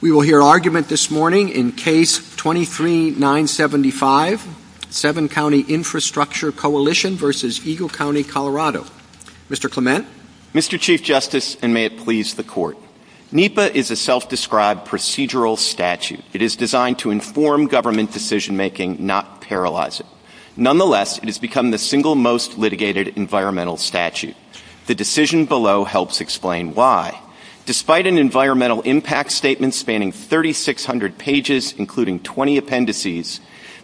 Colorado. We will hear argument this morning in Case 23-975, Seven County Infrastructure Coalition v. Eagle County, Colorado. Mr. Clement? Mr. Chief Justice, and may it please the Court, NEPA is a self-described procedural statute. It is designed to inform government decision making, not paralyze it. Nonetheless, it has become the single most litigated environmental statute. The decision below helps explain why. Despite an environmental impact statement spanning 3,600 pages, including 20 appendices,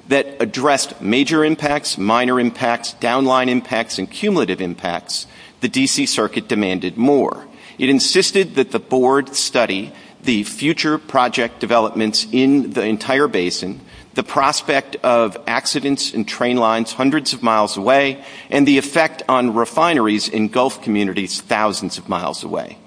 that addressed major impacts, minor impacts, downline impacts, and cumulative impacts, the D.C. Circuit demanded more. It insisted that the Board study the future project developments in the entire basin, the prospect of accidents in train lines hundreds of miles away, and the effect on refineries in Gulf communities thousands of miles away.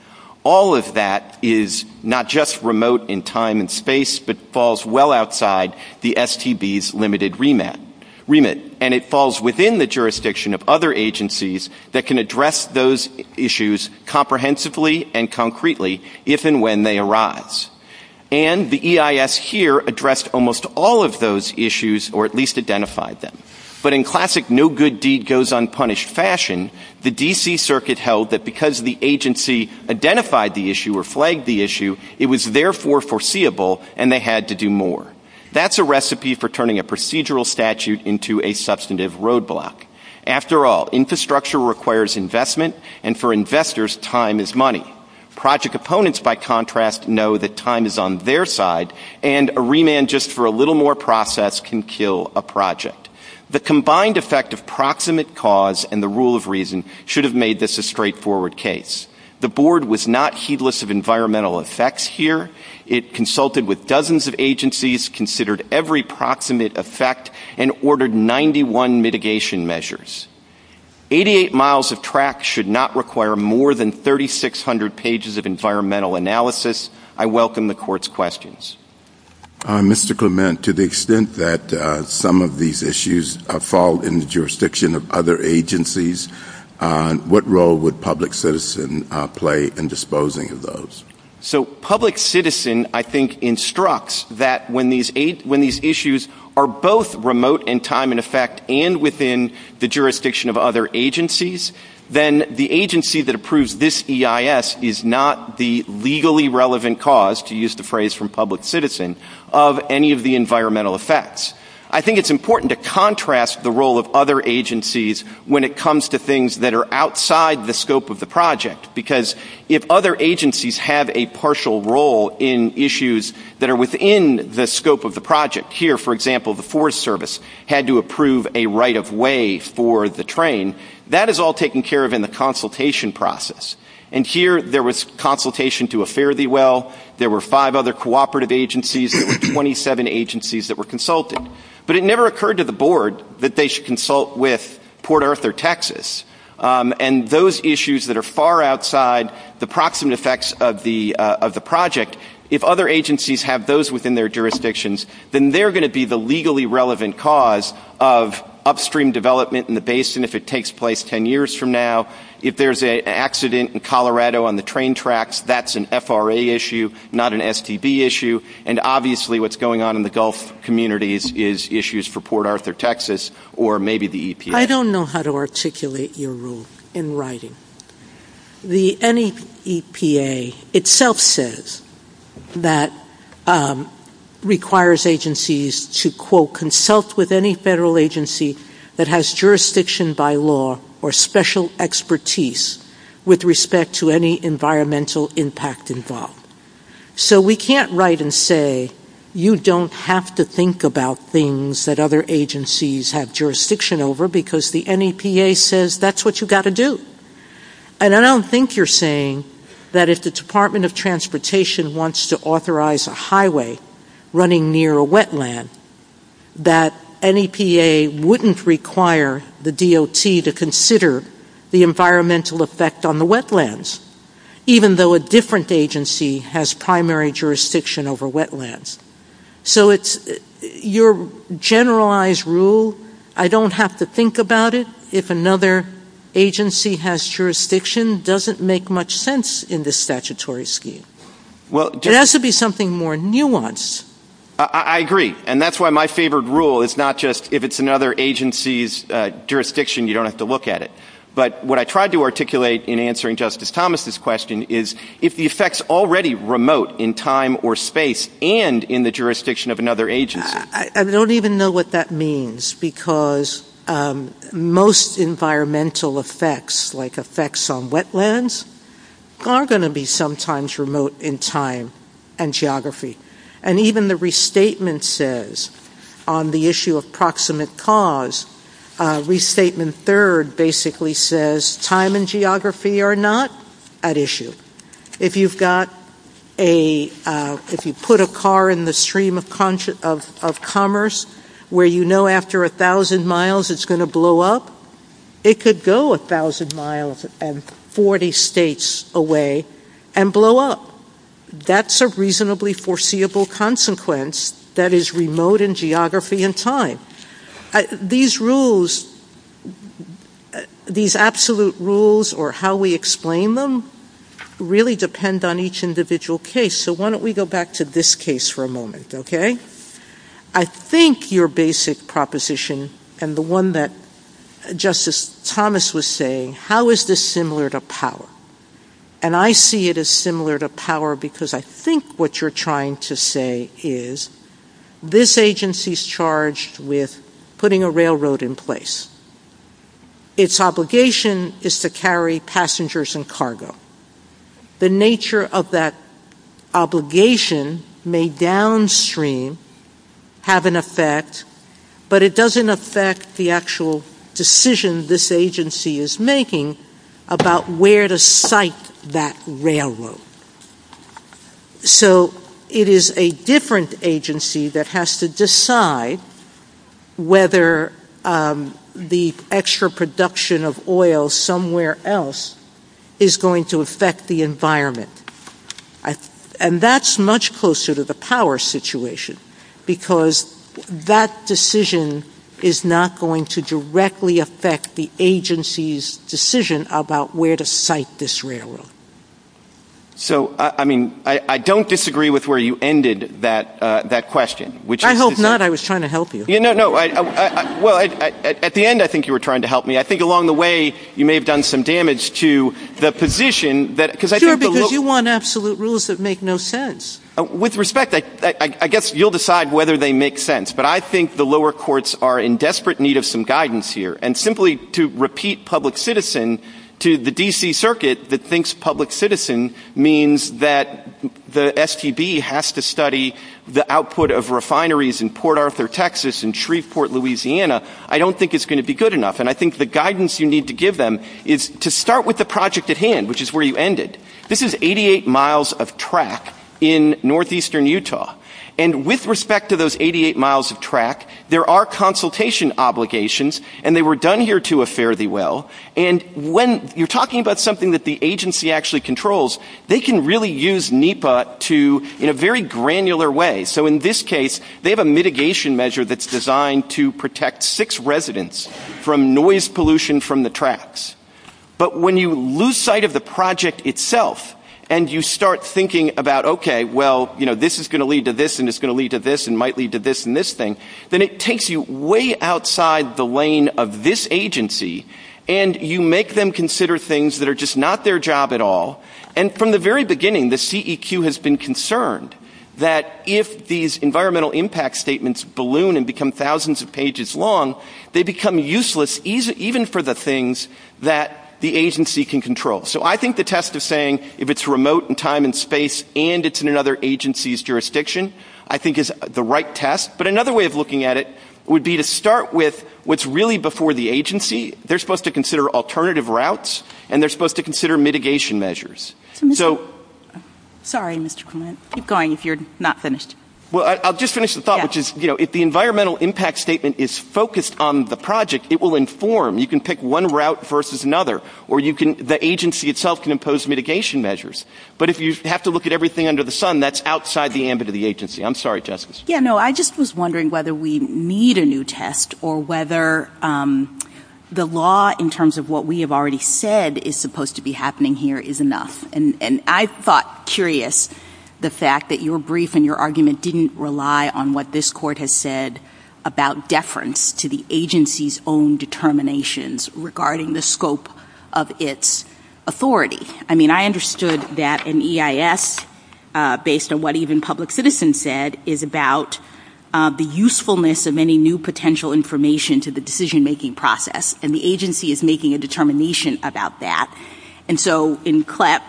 All of that is not just remote in time and space, but falls well outside the STB's limited remit. And it falls within the jurisdiction of other agencies that can address those issues comprehensively and concretely, if and when they arise. And the EIS here addressed almost all of those issues, or at least identified them. But in classic no-good-deed-goes-unpunished fashion, the D.C. Circuit held that because the agency identified the issue or flagged the issue, it was therefore foreseeable, and they had to do more. That's a recipe for turning a procedural statute into a substantive roadblock. After all, infrastructure requires investment, and for investors, time is money. Project proponents, by contrast, know that time is on their side, and a remand just for a little more process can kill a project. The combined effect of proximate cause and the rule of reason should have made this a straightforward case. The Board was not heedless of environmental effects here. It consulted with dozens of agencies, considered every proximate effect, and ordered 91 mitigation measures. Eighty-eight miles of track should not require more than 3,600 pages of environmental analysis. I welcome the Court's questions. Mr. Clement, to the extent that some of these issues fall in the jurisdiction of other agencies, what role would public citizen play in disposing of those? So public citizen, I think, instructs that when these issues are both remote in time and effect, and within the jurisdiction of other agencies, then the agency that approves this EIS is not the legally relevant cause, to use the phrase from public citizen, of any of the environmental effects. I think it's important to contrast the role of other agencies when it comes to things that are outside the scope of the project, because if other agencies have a partial role in issues that are within the scope of the project—here, for example, the Forest Service had to approve a right-of-way for the train—that is all taken care of in the consultation process. And here, there was consultation to a fare-thee-well. There were five other cooperative agencies. There were 27 agencies that were consulted. But it never occurred to the Board that they should consult with Port Arthur, Texas. And those issues that are far outside the proximate effects of the project, if other agencies have those within their jurisdictions, then they're going to be the legally relevant cause of upstream development in the basin if it takes place 10 years from now. If there's an accident in Colorado on the train tracks, that's an FRA issue, not an STD issue. And obviously, what's going on in the Gulf communities is issues for Port Arthur, Texas, or maybe the EPA. I don't know how to articulate your rule in writing. The NEPA itself says that it requires agencies to, quote, consult with any federal agency that has jurisdiction by law or special expertise with respect to any environmental impact involved. So we can't write and say, you don't have to think about things that other agencies have jurisdiction over because the NEPA says that's what you've got to do. And I don't think you're saying that if the Department of Transportation wants to authorize a highway running near a wetland, that NEPA wouldn't require the DOT to consider the environmental effect on the wetlands, even though a different agency has primary jurisdiction over wetlands. So your generalized rule, I don't have to think about it if another agency has jurisdiction, doesn't make much sense in this statutory scheme. It has to be something more nuanced. I agree. And that's why my favorite rule is not just if it's another agency's jurisdiction, you don't have to look at it. But what I tried to articulate in answering Justice Thomas' question is if the effect's already remote in time or space and in the jurisdiction of another agency. I don't even know what that means because most environmental effects, like effects on wetlands, are going to be sometimes remote in time and geography. And even the restatement says on the issue of proximate cause, restatement third basically says time and geography are not at issue. If you've got a, if you put a car in the stream of commerce where you know after 1,000 miles it's going to blow up, it could go 1,000 miles and 40 states away and blow up. That's a reasonably foreseeable consequence that is remote in geography and time. These rules, these absolute rules or how we explain them really depend on each individual case. So why don't we go back to this case for a moment, okay? I think your basic proposition and the one that Justice Thomas was saying, how is this similar to power? And I see it as similar to power because I think what you're trying to say is this agency's charged with putting a railroad in place. Its obligation is to carry passengers and cargo. The nature of that obligation may downstream have an effect, but it doesn't affect the actual decision this agency is making about where to site that railroad. So it is a different agency that has to decide whether the extra production of oil somewhere else is going to affect the environment. And that's much closer to the power situation because that decision is not going to directly affect the agency's decision about where to site this railroad. So, I mean, I don't disagree with where you ended that question. I hope not. I was trying to help you. Well, at the end I think you were trying to help me. I think along the way you may have done some damage to the position. Sure, because you want absolute rules that make no sense. With respect, I guess you'll decide whether they make sense, but I think the lower courts are in desperate need of some guidance here. And simply to repeat public citizen to the D.C. Circuit that thinks public citizen means that the STB has to study the output of refineries in Port Arthur, Texas and Shreveport, Louisiana, I don't think it's going to be good enough. And I think the guidance you need to give them is to start with the project at hand, which is where you ended. This is 88 miles of track in northeastern Utah. And with respect to those 88 miles of track, there are consultation obligations, and they were done here to a fairly well. And when you're talking about something that the agency actually controls, they can really use NEPA in a very granular way. So in this case, they have a mitigation measure that's designed to protect six residents from noise pollution from the tracks. But when you lose sight of the project itself, and you start thinking about, okay, well, you know, this is going to lead to this, and it's going to lead to this, and might lead to this and this thing, then it takes you way outside the lane of this agency, and you make them consider things that are just not their job at all. And from the very beginning, the CEQ has been concerned that if these environmental impact statements balloon and become thousands of pages long, they become useless even for the things that the agency can control. So I think the test of saying if it's remote in time and space, and it's in another agency's jurisdiction, I think is the right test. But another way of looking at it would be to start with what's really before the agency. They're supposed to consider alternative routes, and they're supposed to consider mitigation measures. So... Sorry, Mr. Clement. Keep going if you're not finished. Well, I'll just finish the thought, which is, you know, if the environmental impact statement is focused on the project, it will inform. You can pick one route versus another, or the agency itself can impose mitigation measures. But if you have to look at everything under the sun, that's outside the ambit of the agency. I'm sorry, Justice. Yeah, no, I just was wondering whether we need a new test or whether the law in terms of what we have already said is supposed to be happening here is enough. And I thought curious the fact that your brief and your argument didn't rely on what this court has said about deference to the agency's own determinations regarding the scope of its authority. I mean, I understood that an EIS, based on what even public citizens said, is about the usefulness of any new potential information to the decision-making process. And the agency is making a determination about that. And so in CLEP,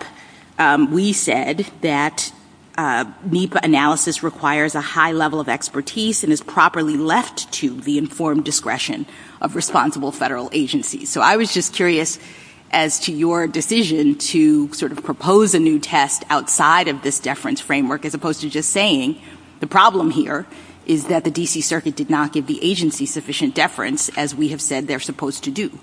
we said that NEPA analysis requires a high level of expertise and is properly left to the informed discretion of responsible federal agencies. So I was just curious as to your decision to sort of propose a new test outside of this deference framework as opposed to just saying, the problem here is that the D.C. Circuit did not give the agency sufficient deference as we have said they're supposed to do.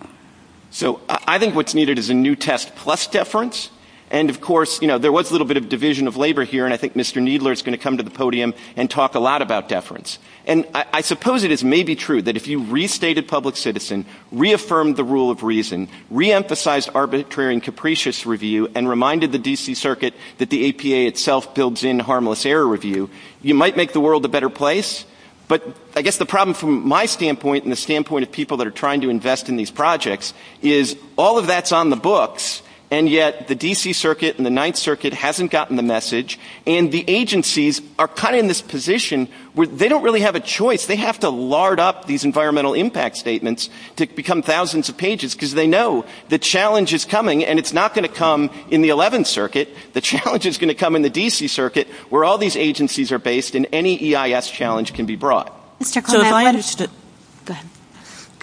So I think what's needed is a new test plus deference. And, of course, there was a little bit of division of labor here, and I think Mr. Needler is going to come to the podium and talk a lot about deference. And I suppose it may be true that if you restated public citizen, reaffirmed the rule of reason, reemphasized arbitrary and capricious review, and reminded the D.C. Circuit that the APA itself builds in harmless error review, you might make the world a better place. But I guess the problem from my standpoint and the standpoint of people that are trying to invest in these projects is all of that's on the books, and yet the D.C. Circuit and the Ninth Circuit hasn't gotten the message, and the agencies are kind of in this position where they don't really have a choice. They have to lard up these environmental impact statements to become thousands of pages because they know the challenge is coming, and it's not going to come in the Eleventh Circuit. The challenge is going to come in the D.C. Circuit, where all these agencies are based, and any EIS challenge can be brought. Go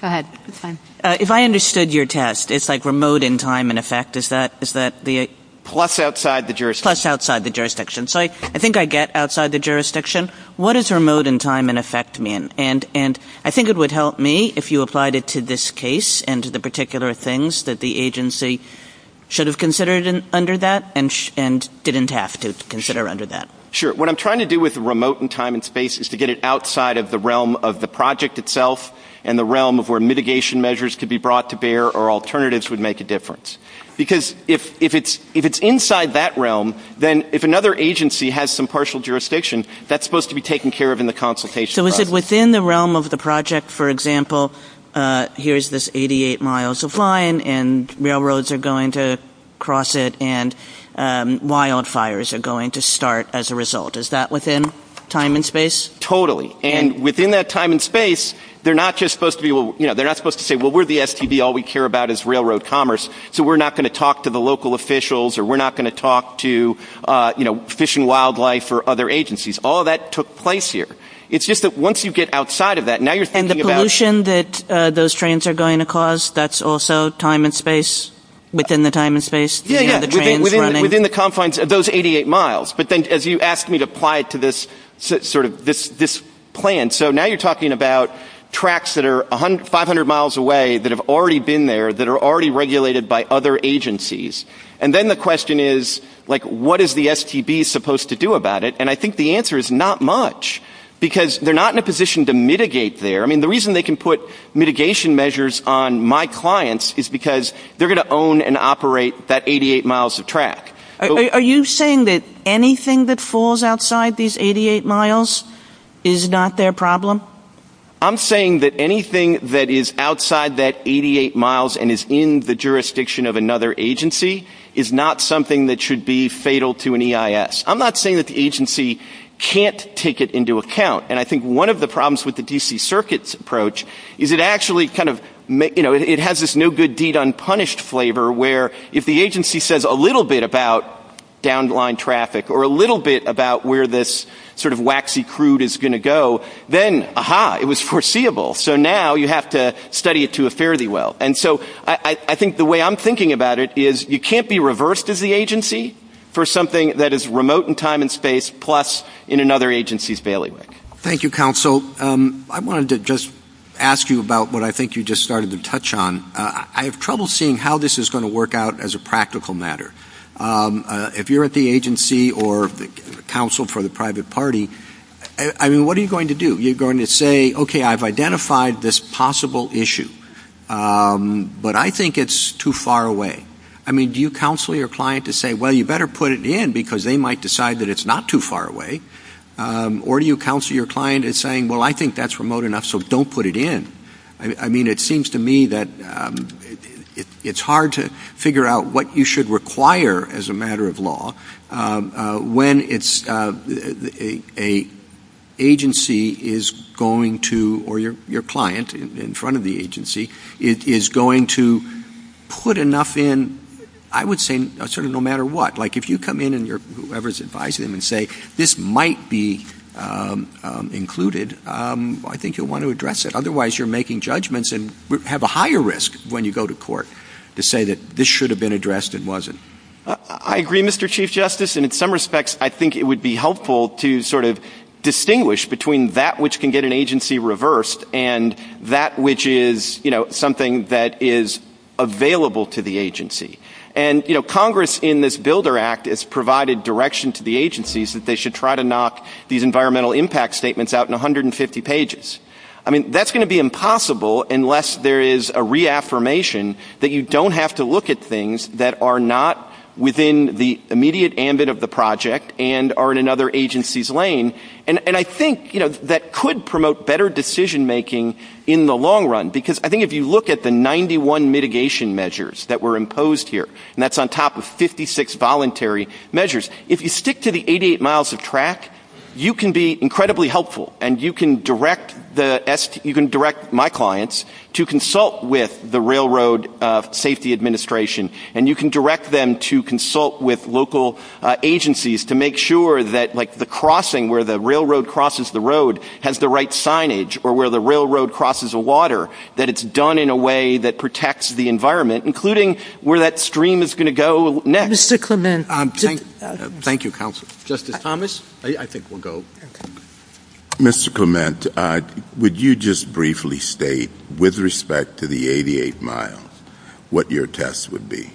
ahead. If I understood your test, it's like remote in time and effect, is that the... Plus outside the jurisdiction. Plus outside the jurisdiction. So I think I get outside the jurisdiction. What does remote in time and effect mean? I think it would help me if you applied it to this case and to the particular things that the agency should have considered under that and didn't have to consider under that. Sure. What I'm trying to do with remote in time and space is to get it outside of the realm of the project itself and the realm of where mitigation measures could be brought to bear or alternatives would make a difference. Because if it's inside that realm, then if another agency has some partial jurisdiction, that's supposed to be taken care of in the consultation process. So within the realm of the project, for example, here's this 88 miles of line, and railroads are going to cross it, and wildfires are going to start as a result. Is that within time and space? Totally. And within that time and space, they're not just supposed to be... They're not supposed to say, well, we're the STB, all we care about is railroad commerce, so we're not going to talk to the local officials or we're not going to talk to Fish and Wildlife or other agencies. All that took place here. It's just that once you get outside of that, now you're thinking about... And the pollution that those trains are going to cause, that's also time and space, within the time and space? Yeah, yeah. Within the confines of those 88 miles. But then as you asked me to apply it to this plan, so now you're talking about tracks that are 500 miles away that have already been there, that are already regulated by other agencies. And then the question is, like, what is the STB supposed to do about it? And I think the answer is not much, because they're not in a position to mitigate there. I mean, the reason they can put mitigation measures on my clients is because they're going to own and operate that 88 miles of track. Are you saying that anything that falls outside these 88 miles is not their problem? I'm saying that anything that is outside that 88 miles and is in the jurisdiction of another agency is not something that should be fatal to an EIS. I'm not saying that the agency can't take it into account. And I think one of the problems with the D.C. Circuit's approach is it actually kind of has this no-good-deed-unpunished flavor where if the agency says a little bit about down-the-line traffic or a little bit about where this sort of waxy crude is going to go, then, aha, it was foreseeable. So now you have to study it to a fairly well. And so I think the way I'm thinking about it is you can't be reversed as the agency for something that is remote in time and space plus in another agency's bailiwick. Thank you, counsel. I wanted to just ask you about what I think you just started to touch on. I have trouble seeing how this is going to work out as a practical matter. If you're at the agency or counsel for the private party, I mean, what are you going to do? You're going to say, okay, I've identified this possible issue, but I think it's too far away. I mean, do you counsel your client to say, well, you better put it in because they might decide that it's not too far away? Or do you counsel your client in saying, well, I think that's remote enough, so don't put it in? I mean, it seems to me that it's hard to figure out what you should require as a matter of law when an agency is going to, or your client in front of the agency, is going to put enough in, I would say, sort of no matter what. Like if you come in and whoever's advising them and say, this might be included, I think you'll want to address it. Otherwise, you're making judgments and have a higher risk when you go to court to say that this should have been addressed and wasn't. I agree, Mr. Chief Justice. And in some respects, I think it would be helpful to sort of distinguish between that which can get an agency reversed and that which is something that is available to the agency. And Congress in this Builder Act has provided direction to the agencies that they should try to knock these environmental impact statements out in 150 pages. I mean, that's going to be impossible unless there is a reaffirmation that you don't have to look at things that are not within the immediate ambit of the project and are in another agency's lane. And I think that could promote better decision-making in the long run because I think if you look at the 91 mitigation measures that were imposed here, and that's on top of 56 voluntary measures, if you stick to the 88 miles of track, you can be incredibly helpful and you can direct my clients to consult with the Railroad Safety Administration and you can direct them to consult with local agencies to make sure that the crossing, where the railroad crosses the road, has the right signage, or where the railroad crosses the water, that it's done in a way that protects the environment, including where that stream is going to go next. Mr. Clement. Thank you, Counsel. Justice Thomas, I think we'll go. Mr. Clement, would you just briefly state, with respect to the 88 miles, what your test would be?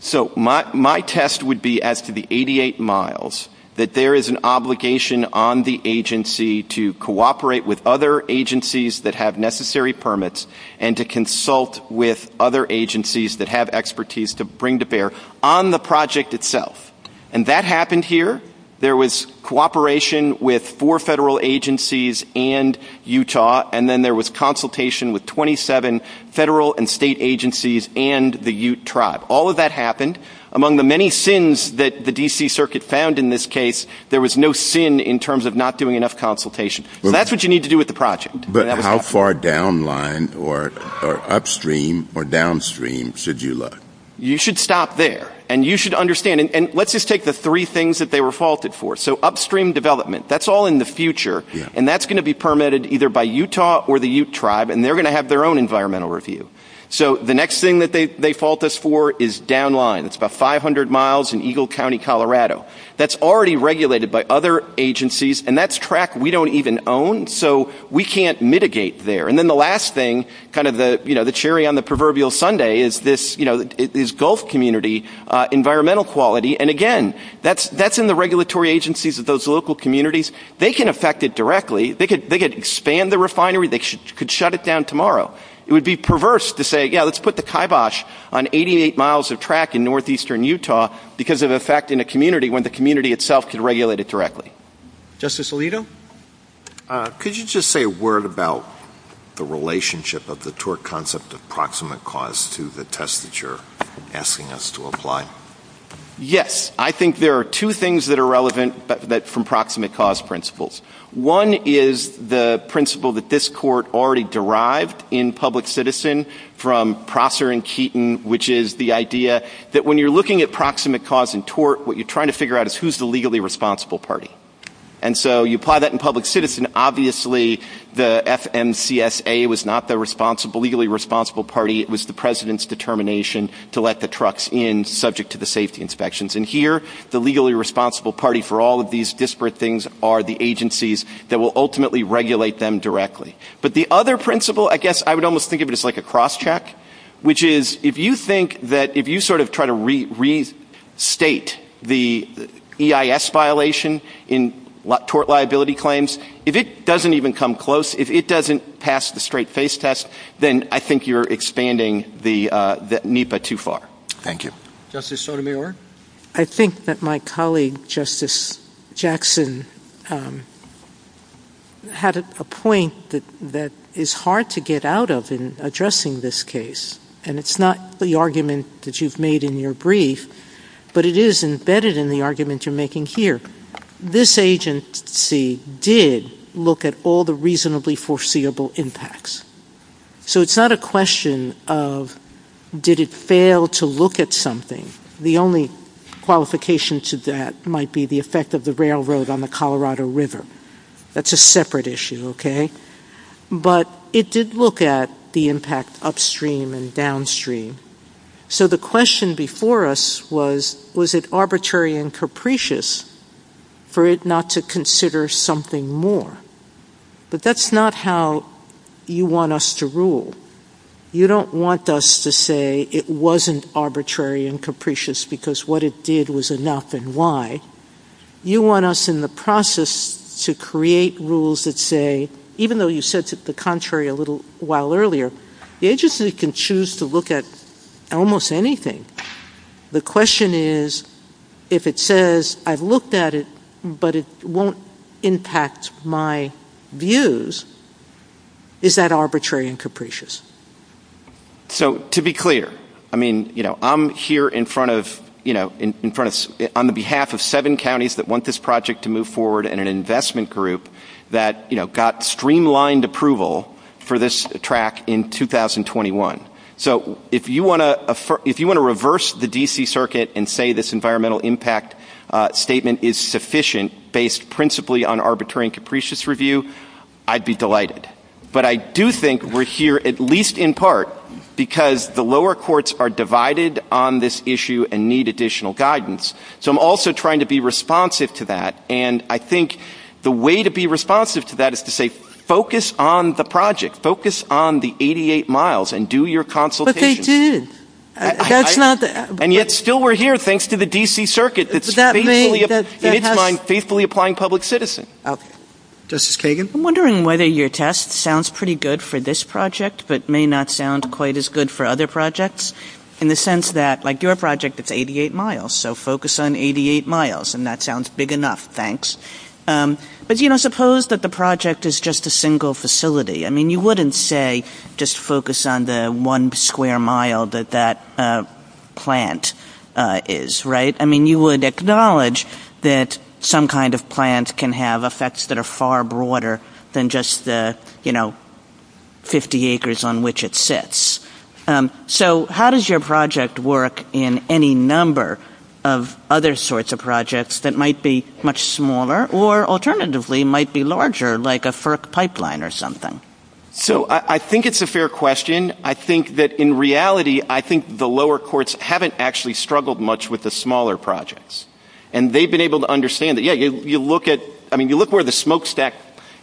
So my test would be, as to the 88 miles, that there is an obligation on the agency to cooperate with other agencies that have necessary permits and to consult with other agencies that have expertise to bring to bear on the project itself. And that happened here. There was cooperation with four federal agencies and Utah, and then there was consultation with 27 federal and state agencies and the Ute Tribe. All of that happened. Among the many sins that the D.C. Circuit found in this case, there was no sin in terms of not doing enough consultation. That's what you need to do with the project. But how far down line or upstream or downstream should you look? You should stop there. And you should understand, and let's just take the three things that they were faulted for. So upstream development, that's all in the future, and that's going to be permitted either by Utah or the Ute Tribe, and they're going to have their own environmental review. So the next thing that they fault us for is down line. It's about 500 miles in Eagle County, Colorado. That's already regulated by other agencies, and that's track we don't even own, so we can't mitigate there. And then the last thing, kind of the cherry on the proverbial sundae, is Gulf community environmental quality. And, again, that's in the regulatory agencies of those local communities. They can affect it directly. They could expand the refinery. They could shut it down tomorrow. It would be perverse to say, you know, let's put the kibosh on 88 miles of track in northeastern Utah because of an effect in a community when the community itself can regulate it directly. Justice Alito? Could you just say a word about the relationship of the tort concept of proximate cause to the test that you're asking us to apply? Yes. I think there are two things that are relevant from proximate cause principles. One is the principle that this court already derived in Public Citizen from Prosser and Keaton, which is the idea that when you're looking at proximate cause and tort, what you're trying to figure out is who's the legally responsible party. And so you apply that in Public Citizen. Obviously the FMCSA was not the legally responsible party. It was the president's determination to let the trucks in subject to the safety inspections. And here the legally responsible party for all of these disparate things are the agencies that will ultimately regulate them directly. But the other principle, I guess I would almost think of it as like a cross check, which is if you think that if you sort of try to restate the EIS violation in tort liability claims, if it doesn't even come close, if it doesn't pass the straight face test, then I think you're expanding the NEPA too far. Thank you. Justice Sotomayor? I think that my colleague Justice Jackson had a point that is hard to get out of in addressing this case. And it's not the argument that you've made in your brief, but it is embedded in the argument you're making here. This agency did look at all the reasonably foreseeable impacts. So it's not a question of did it fail to look at something. The only qualification to that might be the effect of the railroad on the Colorado River. That's a separate issue, okay? But it did look at the impact upstream and downstream. So the question before us was, was it arbitrary and capricious for it not to consider something more? But that's not how you want us to rule. You don't want us to say it wasn't arbitrary and capricious because what it did was enough and why. You want us in the process to create rules that say, even though you said to the contrary a little while earlier, the agency can choose to look at almost anything. The question is, if it says, I've looked at it, but it won't impact my views, is that arbitrary and capricious? So to be clear, I mean, you know, I'm here in front of, you know, on the behalf of seven counties that want this project to move forward and an investment group that, you know, got streamlined approval for this track in 2021. So if you want to reverse the D.C. circuit and say this environmental impact statement is sufficient, based principally on arbitrary and capricious review, I'd be delighted. But I do think we're here at least in part because the lower courts are divided on this issue and need additional guidance. So I'm also trying to be responsive to that. And I think the way to be responsive to that is to say, focus on the project. Focus on the 88 miles and do your consultations. But they did. And yet still we're here thanks to the D.C. circuit that's faithfully applying public citizen. Justice Kagan, I'm wondering whether your test sounds pretty good for this project, but may not sound quite as good for other projects in the sense that, like, your project is 88 miles. So focus on 88 miles. And that sounds big enough. Thanks. But, you know, suppose that the project is just a single facility. I mean, you wouldn't say just focus on the one square mile that that plant is, right? I mean, you would acknowledge that some kind of plant can have effects that are far broader than just the, you know, 50 acres on which it sits. So how does your project work in any number of other sorts of projects that might be much smaller or alternatively might be larger, like a FERC pipeline or something? So I think it's a fair question. I think that in reality, I think the lower courts haven't actually struggled much with the smaller projects. And they've been able to understand that, yeah, you look at, I mean, you look where the smokestack,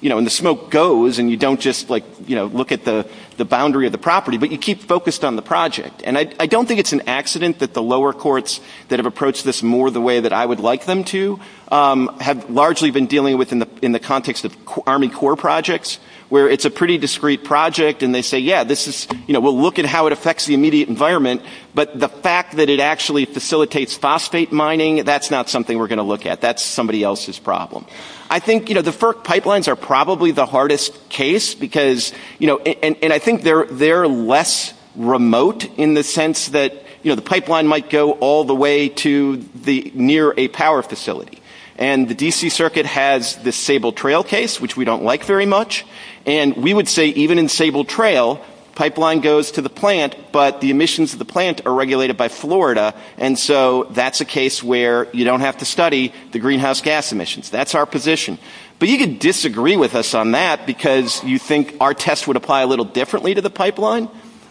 you know, and the smoke goes and you don't just like, you know, look at the boundary of the property, but you keep focused on the project. And I don't think it's an accident that the lower courts that have approached this more the way that I would like them to have largely been dealing with in the context of Army Corps projects, where it's a pretty discrete project. And they say, yeah, this is, you know, we'll look at how it affects the immediate environment. But the fact that it actually facilitates phosphate mining, that's not something we're going to look at. That's somebody else's problem. I think, you know, the FERC pipelines are probably the hardest case because, you know, And I think they're less remote in the sense that, you know, the pipeline might go all the way to the near a power facility. And the D.C. Circuit has this Sable Trail case, which we don't like very much. And we would say even in Sable Trail, pipeline goes to the plant, but the emissions of the plant are regulated by Florida. And so that's a case where you don't have to study the greenhouse gas emissions. That's our position. But you can disagree with us on that because you think our test would apply a little differently to the pipeline.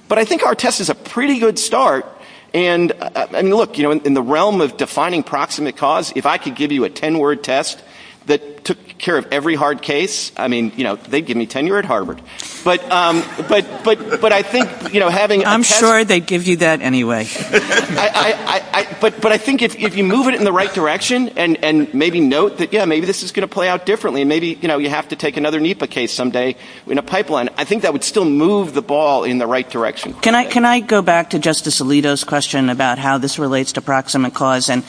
But I think our test is a pretty good start. And look, you know, in the realm of defining proximate cause, if I could give you a 10-word test that took care of every hard case, I mean, you know, they'd give me tenure at Harvard. But I think, you know, having I'm sure they'd give you that anyway. But I think if you move it in the right direction and maybe note that, yeah, maybe this is going to play out differently. Maybe, you know, you have to take another NEPA case someday in a pipeline. I think that would still move the ball in the right direction. Can I go back to Justice Alito's question about how this relates to proximate cause? And,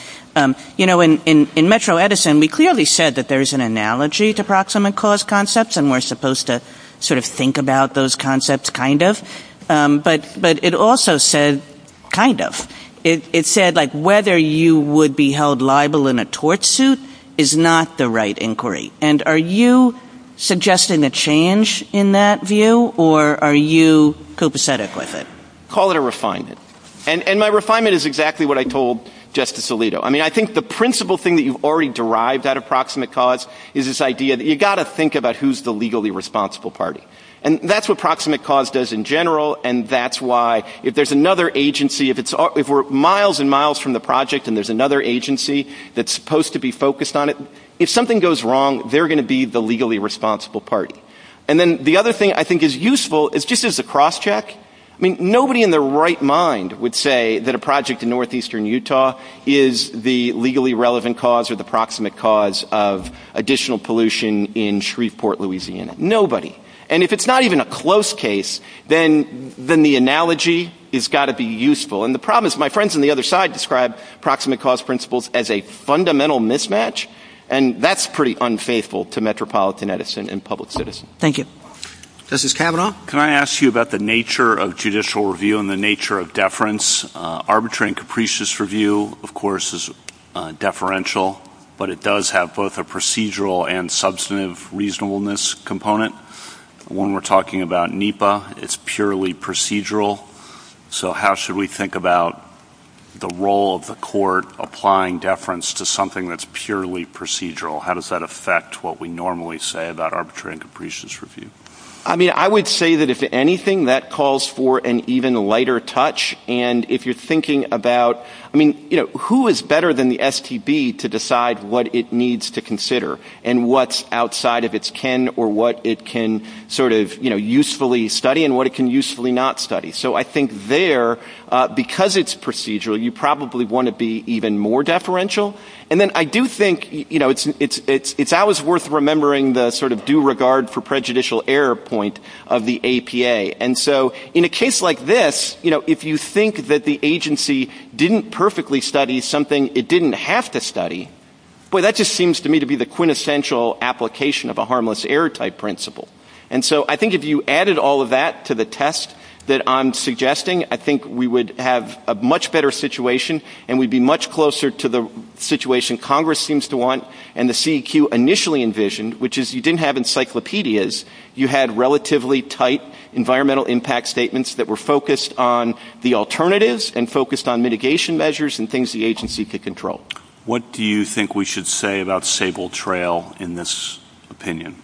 you know, in Metro Edison, we clearly said that there is an analogy to proximate cause concepts, and we're supposed to sort of think about those concepts kind of. But it also said, kind of. It said, like, whether you would be held liable in a tort suit is not the right inquiry. And are you suggesting a change in that view, or are you copacetic with it? Call it a refinement. And my refinement is exactly what I told Justice Alito. I mean, I think the principal thing that you've already derived out of proximate cause is this idea that you've got to think about who's the legally responsible party. And that's what proximate cause does in general. And that's why, if there's another agency, if we're miles and miles from the project and there's another agency that's supposed to be focused on it, if something goes wrong, they're going to be the legally responsible party. And then the other thing I think is useful is just as a crosscheck. I mean, nobody in their right mind would say that a project in northeastern Utah is the legally relevant cause or the proximate cause of additional pollution in Shreveport, Louisiana. Nobody. And if it's not even a close case, then the analogy has got to be useful. And the problem is my friends on the other side describe proximate cause principles as a fundamental mismatch, and that's pretty unfaithful to metropolitan Edison and public citizens. Thank you. Justice Kavanaugh? Can I ask you about the nature of judicial review and the nature of deference? Arbitrary and capricious review, of course, is deferential, but it does have both a procedural and substantive reasonableness component. When we're talking about NEPA, it's purely procedural. So how should we think about the role of the court applying deference to something that's purely procedural? How does that affect what we normally say about arbitrary and capricious review? I mean, I would say that if anything, that calls for an even lighter touch. And if you're thinking about, I mean, who is better than the STB to decide what it needs to consider and what's outside of its ken or what it can sort of usefully study and what it can usefully not study? So I think there, because it's procedural, you probably want to be even more deferential. And then I do think it's always worth remembering the sort of due regard for prejudicial error point of the APA. And so in a case like this, you know, if you think that the agency didn't perfectly study something it didn't have to study, boy, that just seems to me to be the quintessential application of a harmless error type principle. And so I think if you added all of that to the test that I'm suggesting, I think we would have a much better situation and we'd be much closer to the situation Congress seems to want and the CEQ initially envisioned, which is you didn't have encyclopedias, you had relatively tight environmental impact statements that were focused on the alternatives and focused on mitigation measures and things the agency could control. What do you think we should say about Sable Trail in this opinion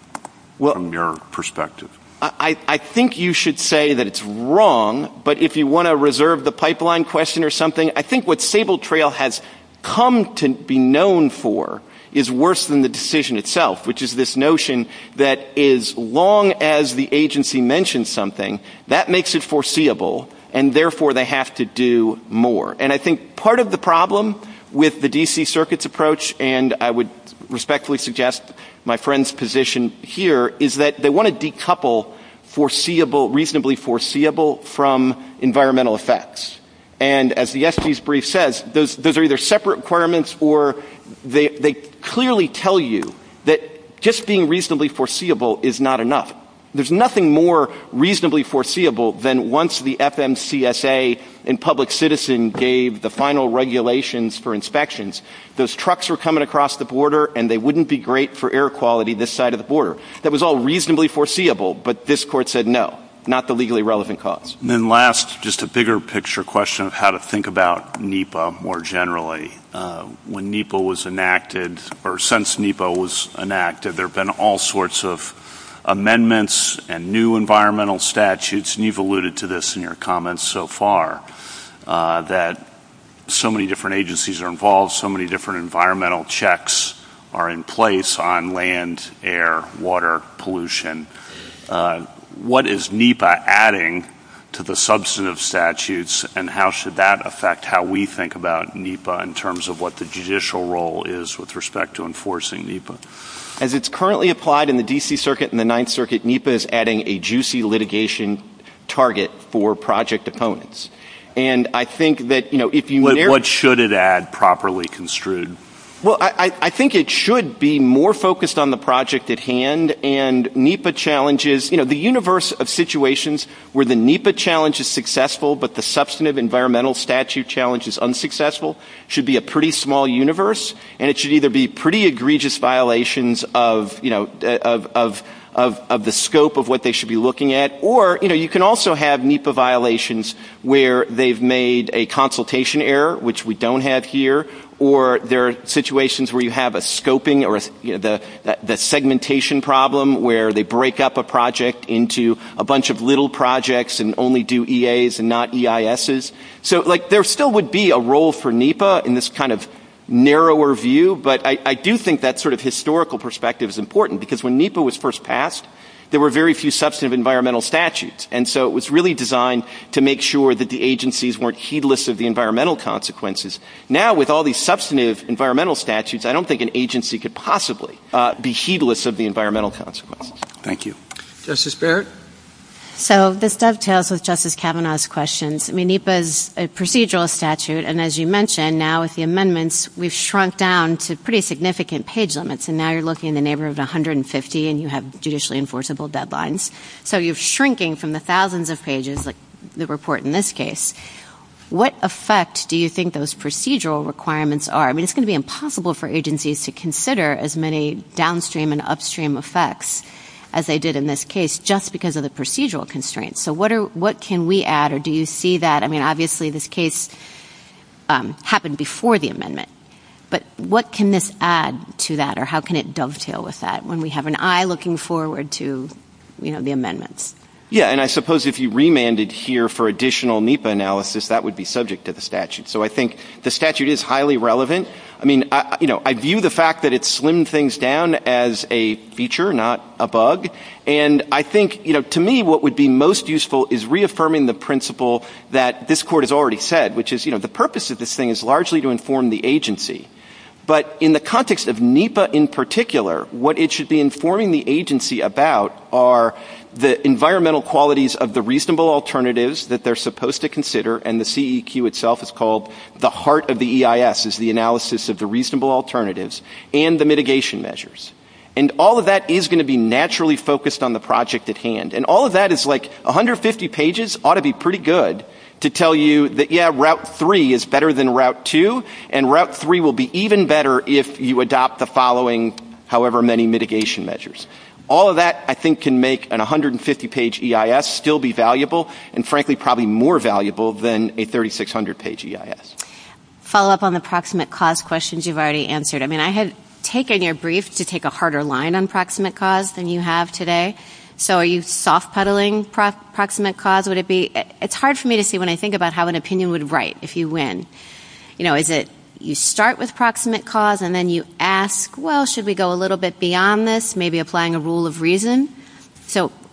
from your perspective? I think you should say that it's wrong, but if you want to reserve the pipeline question or something, I think what Sable Trail has come to be known for is worse than the decision itself, which is this notion that as long as the agency mentions something, that makes it foreseeable, and therefore they have to do more. And I think part of the problem with the D.C. Circuit's approach, and I would respectfully suggest my friend's position here, is that they want to decouple reasonably foreseeable from environmental effects. And as the SEC's brief says, those are either separate requirements or they clearly tell you that just being reasonably foreseeable is not enough. There's nothing more reasonably foreseeable than once the FMCSA and Public Citizen gave the final regulations for inspections, those trucks were coming across the border and they wouldn't be great for air quality this side of the border. That was all reasonably foreseeable, but this court said no, not the legally relevant cause. And then last, just a bigger picture question of how to think about NEPA more generally. When NEPA was enacted, or since NEPA was enacted, there have been all sorts of amendments and new environmental statutes, and you've alluded to this in your comments so far, that so many different agencies are involved, so many different environmental checks are in place on land, air, water, pollution. What is NEPA adding to the substantive statutes, and how should that affect how we think about NEPA in terms of what the judicial role is with respect to enforcing NEPA? As it's currently applied in the D.C. Circuit and the Ninth Circuit, NEPA is adding a juicy litigation target for project opponents. What should it add, properly construed? Well, I think it should be more focused on the project at hand, and NEPA challenges, you know, the universe of situations where the NEPA challenge is successful, but the substantive environmental statute challenge is unsuccessful, should be a pretty small universe, and it should either be pretty egregious violations of the scope of what they should be looking at, or, you know, you can also have NEPA violations where they've made a consultation error, which we don't have here, or there are situations where you have a scoping, or the segmentation problem where they break up a project into a bunch of little projects and only do EAs and not EISs. So, like, there still would be a role for NEPA in this kind of narrower view, but I do think that sort of historical perspective is important, because when NEPA was first passed, there were very few substantive environmental statutes, and so it was really designed to make sure that the agencies weren't heedless of the environmental consequences. Now, with all these substantive environmental statutes, I don't think an agency could possibly be heedless of the environmental consequences. Thank you. Justice Barrett? So, this dovetails with Justice Kavanaugh's questions. I mean, NEPA is a procedural statute, and as you mentioned, now with the amendments, we've shrunk down to pretty significant page limits, and now you're looking in the neighborhood of 150 and you have judicially enforceable deadlines. So, you're shrinking from the thousands of pages, like the report in this case. What effect do you think those procedural requirements are? I mean, it's going to be impossible for agencies to consider as many downstream and upstream effects as they did in this case just because of the procedural constraints. So, what can we add, or do you see that? I mean, obviously, this case happened before the amendment, but what can this add to that, or how can it dovetail with that? When we have an eye looking forward to the amendments. Yeah, and I suppose if you remanded here for additional NEPA analysis, that would be subject to the statute. So, I think the statute is highly relevant. I mean, I view the fact that it slimmed things down as a feature, not a bug. And I think, to me, what would be most useful is reaffirming the principle that this court has already said, which is the purpose of this thing is largely to inform the agency. But in the context of NEPA in particular, what it should be informing the agency about are the environmental qualities of the reasonable alternatives that they're supposed to consider, and the CEQ itself is called the heart of the EIS, is the analysis of the reasonable alternatives, and the mitigation measures. And all of that is going to be naturally focused on the project at hand. And all of that is like 150 pages ought to be pretty good to tell you that, yeah, Route 3 is better than Route 2, and Route 3 will be even better if you adopt the following, however many mitigation measures. All of that, I think, can make an 150-page EIS still be valuable, and frankly probably more valuable than a 3,600-page EIS. Follow-up on the proximate cause questions you've already answered. I mean, I had taken your brief to take a harder line on proximate cause than you have today. So, are you soft-puddling proximate cause? It's hard for me to see when I think about how an opinion would write if you win. Is it you start with proximate cause and then you ask, well, should we go a little bit beyond this, maybe applying a rule of reason?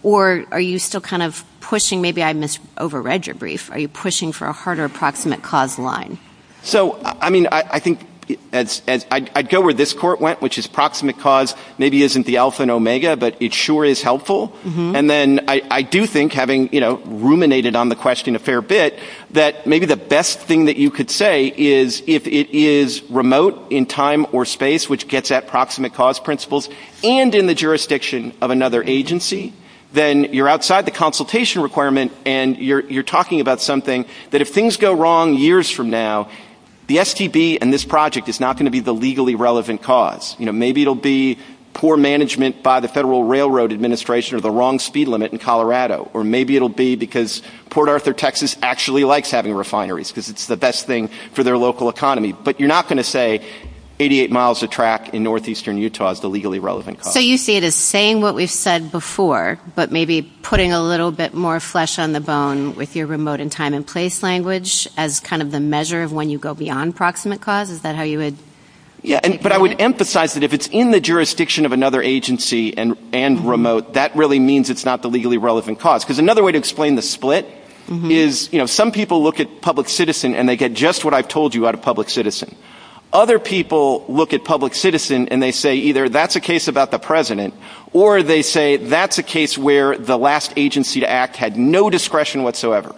Or are you still kind of pushing, maybe I misread your brief, are you pushing for a harder proximate cause line? So, I mean, I think I'd go where this court went, which is proximate cause maybe isn't the alpha and omega, but it sure is helpful. And then I do think, having ruminated on the question a fair bit, that maybe the best thing that you could say is if it is remote in time or space, which gets at proximate cause principles, and in the jurisdiction of another agency, then you're outside the consultation requirement and you're talking about something that if things go wrong years from now, the STB and this project is not going to be the legally relevant cause. Maybe it'll be poor management by the Federal Railroad Administration or the wrong speed limit in Colorado, or maybe it'll be because Port Arthur, Texas, actually likes having refineries because it's the best thing for their local economy. But you're not going to say 88 miles a track in northeastern Utah is the legally relevant cause. So you see it as saying what we've said before, but maybe putting a little bit more flesh on the bone with your remote in time and place language as kind of the measure of when you go beyond proximate cause? Is that how you would? But I would emphasize that if it's in the jurisdiction of another agency and remote, that really means it's not the legally relevant cause. Because another way to explain the split is some people look at public citizen and they get just what I've told you out of public citizen. Other people look at public citizen and they say either that's a case about the president, or they say that's a case where the last agency to act had no discretion whatsoever.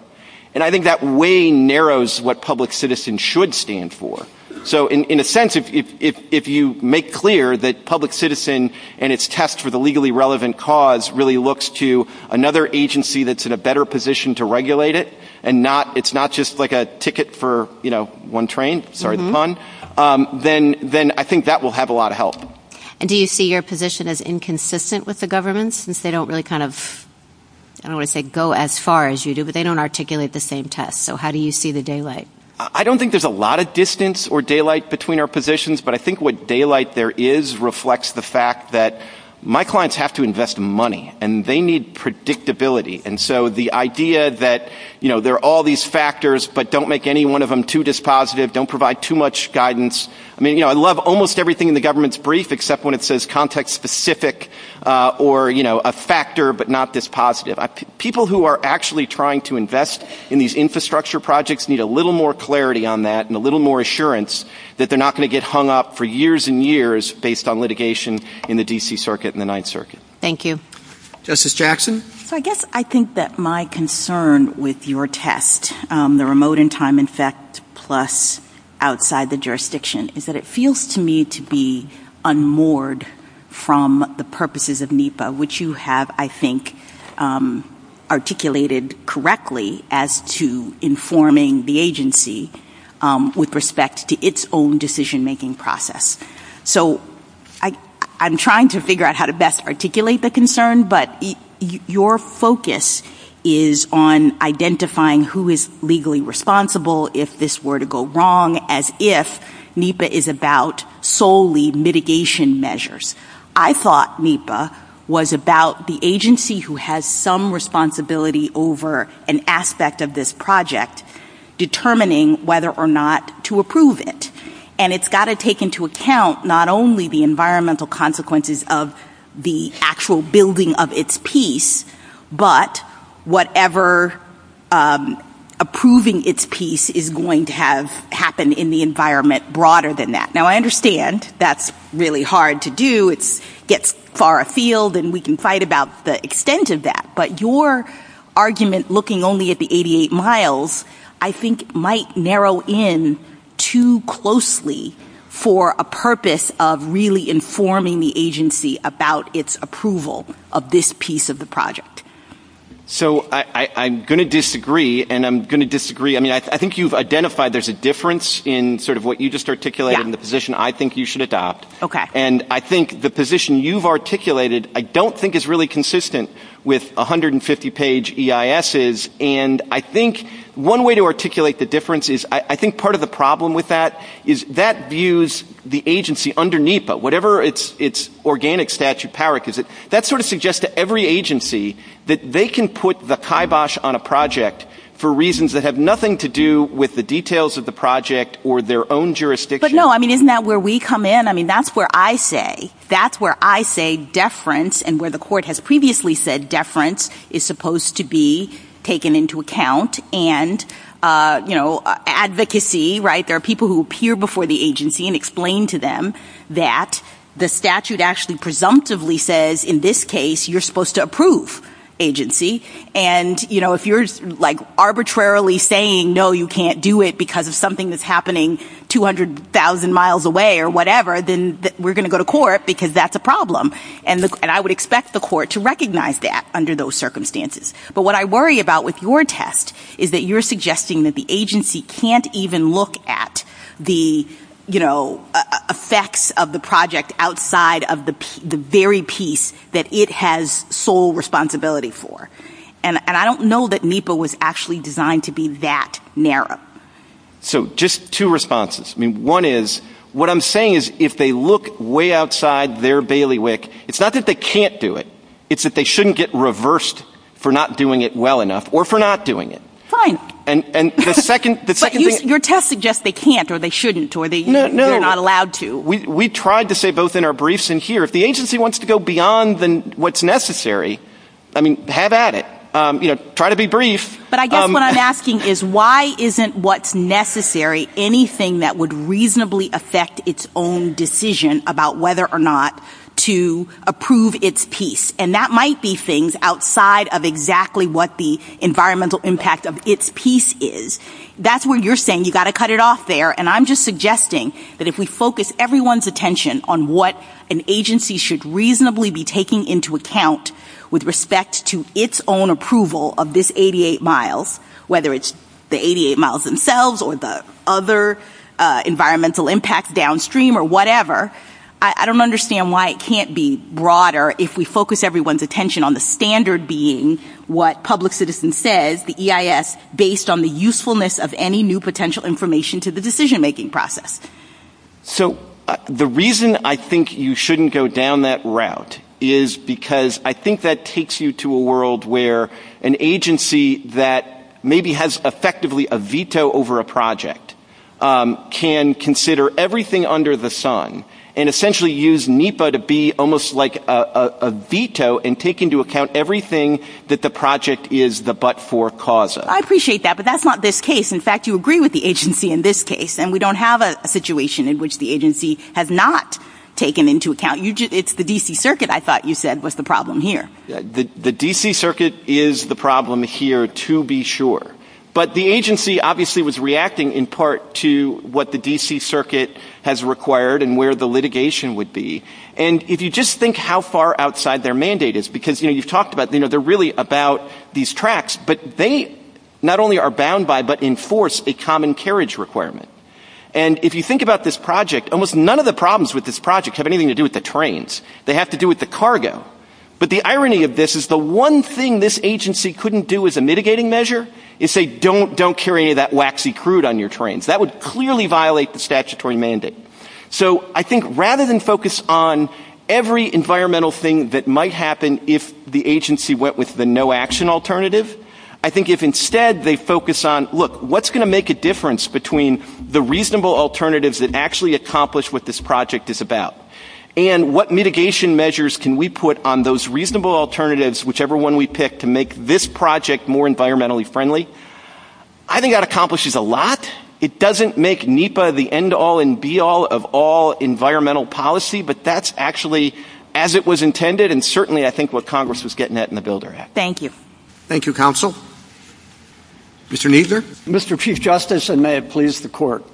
And I think that way narrows what public citizen should stand for. So in a sense, if you make clear that public citizen and its test for the legally relevant cause really looks to another agency that's in a better position to regulate it, and it's not just like a ticket for one train, sorry, the fun, then I think that will have a lot of help. And do you see your position as inconsistent with the government since they don't really kind of, I don't want to say go as far as you do, but they don't articulate the same test. So how do you see the daylight? I don't think there's a lot of distance or daylight between our positions, but I think what daylight there is reflects the fact that my clients have to invest money, and they need predictability. And so the idea that, you know, there are all these factors, but don't make any one of them too dispositive, don't provide too much guidance. I mean, you know, I love almost everything in the government's brief, except when it says context-specific or, you know, a factor but not dispositive. People who are actually trying to invest in these infrastructure projects need a little more clarity on that and a little more assurance that they're not going to get hung up for years and years based on litigation in the D.C. Circuit and the Ninth Circuit. Thank you. Justice Jackson? So I guess I think that my concern with your test, the remote and time-infected plus outside the jurisdiction, is that it feels to me to be unmoored from the purposes of NEPA, which you have, I think, articulated correctly as to informing the agency with respect to its own decision-making process. So I'm trying to figure out how to best articulate the concern, but your focus is on identifying who is legally responsible if this were to go wrong, as if NEPA is about solely mitigation measures. I thought NEPA was about the agency who has some responsibility over an aspect of this project, determining whether or not to approve it. And it's got to take into account not only the environmental consequences of the actual building of its piece, but whatever approving its piece is going to have happen in the environment broader than that. Now, I understand that's really hard to do. It gets far afield, and we can fight about the extent of that. But your argument, looking only at the 88 miles, I think might narrow in too closely for a purpose of really informing the agency about its approval of this piece of the project. So I'm going to disagree, and I'm going to disagree. I mean, I think you've identified there's a difference in sort of what you just articulated and the position I think you should adopt. And I think the position you've articulated I don't think is really consistent with 150-page EISs. And I think one way to articulate the difference is I think part of the problem with that is that views the agency underneath it, whatever its organic statute power, because that sort of suggests to every agency that they can put the kibosh on a project for reasons that have nothing to do with the details of the project or their own jurisdiction. But, no, I mean, isn't that where we come in? I mean, that's where I say, that's where I say deference and where the court has previously said deference is supposed to be taken into account. And, you know, advocacy, right, there are people who appear before the agency and explain to them that the statute actually presumptively says, in this case, you're supposed to approve agency. And, you know, if you're like arbitrarily saying, no, you can't do it because of something that's happening 200,000 miles away or whatever, then we're going to go to court because that's a problem. And I would expect the court to recognize that under those circumstances. But what I worry about with your test is that you're suggesting that the agency can't even look at the, you know, effects of the project outside of the very piece that it has sole responsibility for. And I don't know that NEPA was actually designed to be that narrow. So, just two responses. One is, what I'm saying is if they look way outside their bailiwick, it's not that they can't do it. It's that they shouldn't get reversed for not doing it well enough or for not doing it. Fine. And the second thing is... But your test suggests they can't or they shouldn't or they're not allowed to. No, no, we tried to say both in our briefs and here. If the agency wants to go beyond what's necessary, I mean, have at it. Try to be brief. But I guess what I'm asking is why isn't what's necessary anything that would reasonably affect its own decision about whether or not to approve its piece? And that might be things outside of exactly what the environmental impact of its piece is. That's where you're saying you've got to cut it off there. And I'm just suggesting that if we focus everyone's attention on what an agency should reasonably be taking into account with respect to its own approval of this 88 miles, whether it's the 88 miles themselves or the other environmental impact downstream or whatever, I don't understand why it can't be broader if we focus everyone's attention on the standard being what Public Citizen says, based on the usefulness of any new potential information to the decision-making process. So the reason I think you shouldn't go down that route is because I think that takes you to a world where an agency that maybe has effectively a veto over a project can consider everything under the sun and essentially use NEPA to be almost like a veto and take into account everything that the project is the but-for-causa. I appreciate that, but that's not this case. In fact, you agree with the agency in this case, and we don't have a situation in which the agency has not taken into account. It's the D.C. Circuit, I thought you said, was the problem here. The D.C. Circuit is the problem here, to be sure. But the agency obviously was reacting in part to what the D.C. Circuit has required and where the litigation would be. And if you just think how far outside their mandate is, because you talked about they're really about these tracks, but they not only are bound by but enforce a common carriage requirement. And if you think about this project, almost none of the problems with this project have anything to do with the trains. They have to do with the cargo. But the irony of this is the one thing this agency couldn't do as a mitigating measure is say, don't carry any of that waxy crude on your trains. That would clearly violate the statutory mandate. So I think rather than focus on every environmental thing that might happen if the agency went with the no-action alternative, I think if instead they focus on, look, what's going to make a difference between the reasonable alternatives that actually accomplish what this project is about and what mitigation measures can we put on those reasonable alternatives, whichever one we pick, to make this project more environmentally friendly, I think that accomplishes a lot. It doesn't make NEPA the end-all and be-all of all environmental policy, but that's actually as it was intended and certainly I think what Congress was getting at in the Builder Act. Thank you. Thank you, Counsel. Mr. Kneedler. Mr. Chief Justice, and may it please the Court.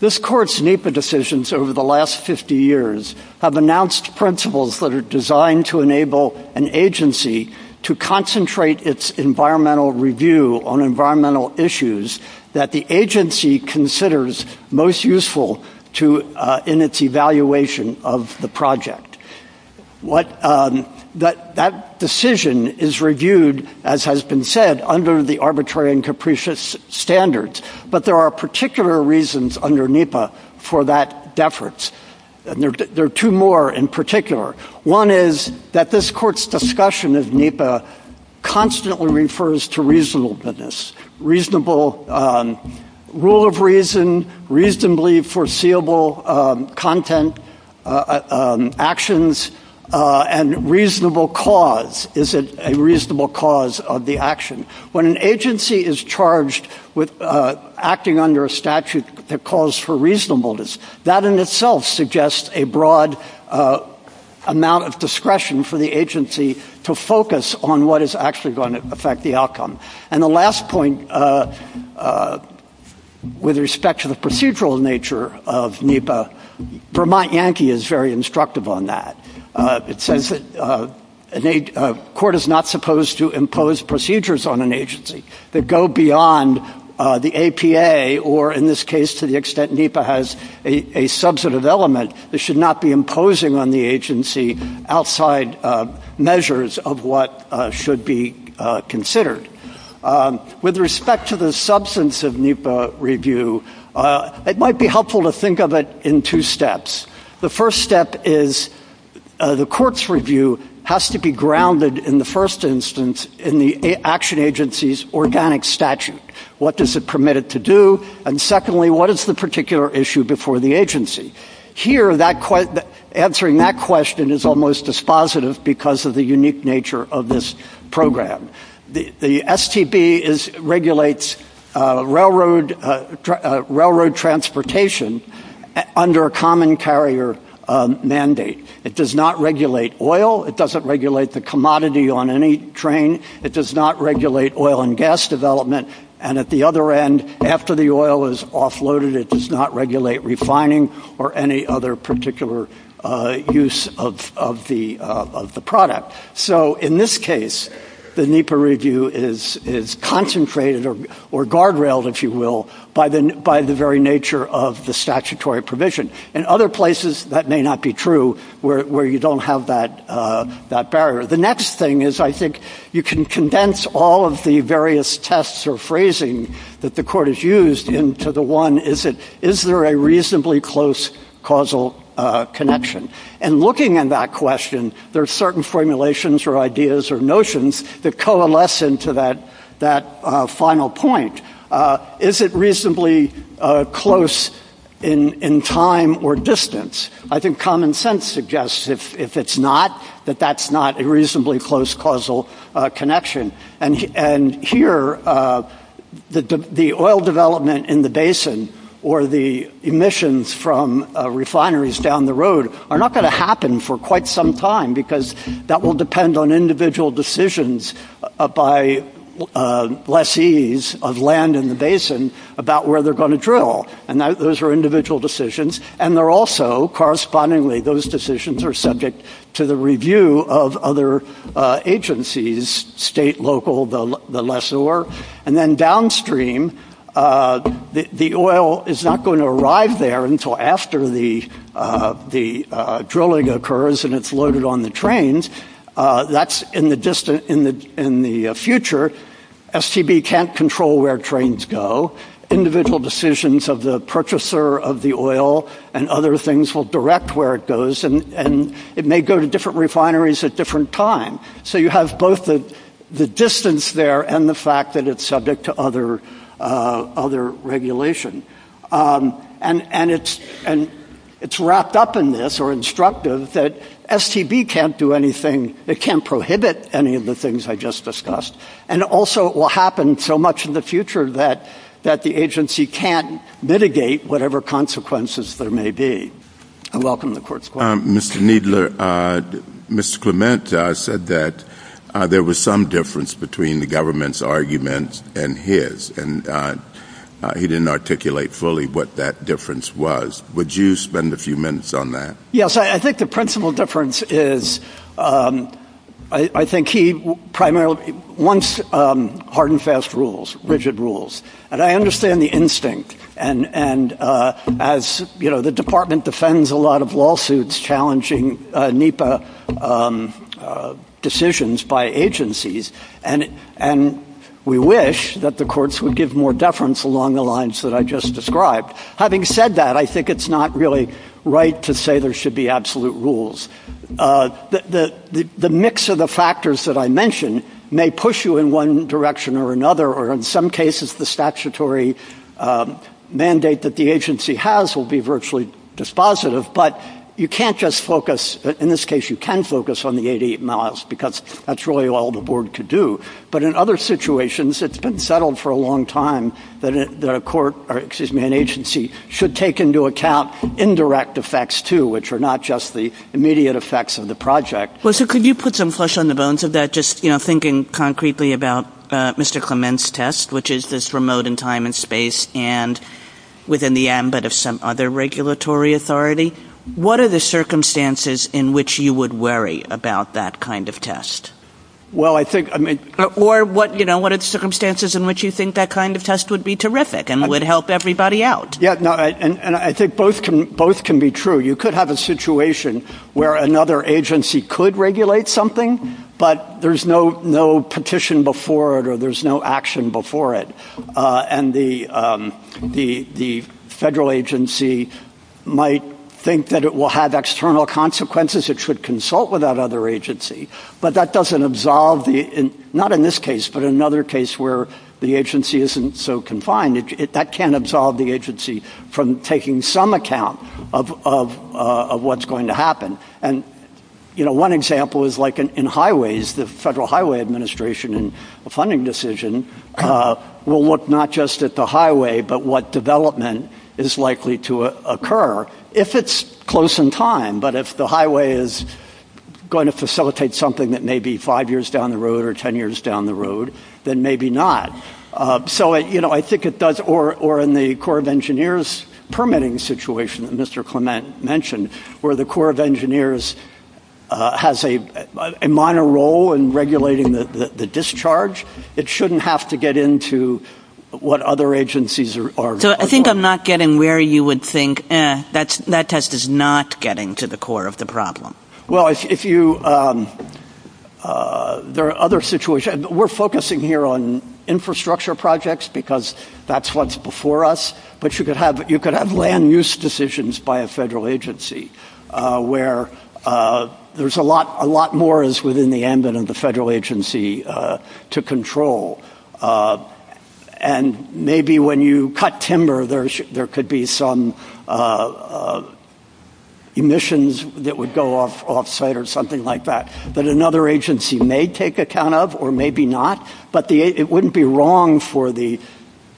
This Court's NEPA decisions over the last 50 years have announced principles that are designed to enable an agency to concentrate its environmental review on environmental issues that the agency considers most useful in its evaluation of the project. That decision is reviewed, as has been said, under the arbitrary and capricious standards, but there are particular reasons under NEPA for that deference. There are two more in particular. One is that this Court's discussion of NEPA constantly refers to reasonableness, reasonable rule of reason, reasonably foreseeable content, actions, and reasonable cause. Is it a reasonable cause of the action? When an agency is charged with acting under a statute that calls for reasonableness, that in itself suggests a broad amount of discretion for the agency to focus on what is actually going to affect the outcome. And the last point with respect to the procedural nature of NEPA, Vermont Yankee is very instructive on that. It says that a court is not supposed to impose procedures on an agency that go beyond the APA or, in this case, to the extent NEPA has a substantive element, it should not be imposing on the agency outside measures of what should be considered. With respect to the substance of NEPA review, it might be helpful to think of it in two steps. The first step is the court's review has to be grounded, in the first instance, in the action agency's organic statute. What does it permit it to do? And secondly, what is the particular issue before the agency? Here, answering that question is almost dispositive because of the unique nature of this program. The STB regulates railroad transportation under a common carrier mandate. It does not regulate oil. It doesn't regulate the commodity on any train. It does not regulate oil and gas development. And at the other end, after the oil is offloaded, it does not regulate refining or any other particular use of the product. So in this case, the NEPA review is concentrated or guardrailed, if you will, by the very nature of the statutory provision. In other places, that may not be true where you don't have that barrier. The next thing is I think you can condense all of the various tests or phrasing that the court has used into the one, is there a reasonably close causal connection? And looking at that question, there are certain formulations or ideas or notions that coalesce into that final point. Is it reasonably close in time or distance? I think common sense suggests if it's not, that that's not a reasonably close causal connection. And here, the oil development in the basin or the emissions from refineries down the road are not going to happen for quite some time because that will depend on individual decisions by lessees of land in the basin about where they're going to drill. And those are individual decisions. And they're also correspondingly, those decisions are subject to the review of other agencies, state, local, the lessor. And then downstream, the oil is not going to arrive there until after the drilling occurs and it's loaded on the trains. That's in the future. STB can't control where trains go. Individual decisions of the purchaser of the oil and other things will direct where it goes. And it may go to different refineries at different times. So you have both the distance there and the fact that it's subject to other regulation. And it's wrapped up in this or instructive that STB can't do anything. It can't prohibit any of the things I just discussed. And also it will happen so much in the future that the agency can't mitigate whatever consequences there may be. I welcome the court's question. Mr. Kneedler, Mr. Clement said that there was some difference between the government's arguments and his. And he didn't articulate fully what that difference was. Would you spend a few minutes on that? Yes. I think the principal difference is I think he primarily wants hard and fast rules, rigid rules. And I understand the instinct. And as, you know, the department defends a lot of lawsuits challenging NEPA decisions by agencies. And we wish that the courts would give more deference along the lines that I just described. Having said that, I think it's not really right to say there should be absolute rules. The mix of the factors that I mentioned may push you in one direction or another, or in some cases the statutory mandate that the agency has will be virtually dispositive. But you can't just focus, in this case you can focus on the 88 miles because that's really all the work to do. But in other situations, it's been settled for a long time that an agency should take into account indirect effects, too, which are not just the immediate effects of the project. Well, so could you put some flesh on the bones of that, just thinking concretely about Mr. Clement's test, which is this remote in time and space and within the ambit of some other regulatory authority? What are the circumstances in which you would worry about that kind of test? Or what are the circumstances in which you think that kind of test would be terrific and would help everybody out? And I think both can be true. You could have a situation where another agency could regulate something, but there's no petition before it or there's no action before it. And the federal agency might think that it will have external consequences, it should consult with that other agency. But that doesn't absolve, not in this case, but in another case where the agency isn't so confined, that can't absolve the agency from taking some account of what's going to happen. And, you know, one example is like in highways, the Federal Highway Administration and the funding decision will look not just at the highway, but what development is likely to occur if it's close in time. But if the highway is going to facilitate something that may be five years down the road or ten years down the road, then maybe not. So, you know, I think it does or in the Corps of Engineers permitting situation, Mr. Clement mentioned where the Corps of Engineers has a minor role in regulating the discharge. It shouldn't have to get into what other agencies are. So I think I'm not getting where you would think that test is not getting to the core of the problem. Well, if you there are other situations. We're focusing here on infrastructure projects because that's what's before us. But you could have land use decisions by a federal agency where there's a lot, a lot more is within the ambit of the federal agency to control. And maybe when you cut timber, there could be some emissions that would go off site or something like that. But another agency may take account of or maybe not. But it wouldn't be wrong for the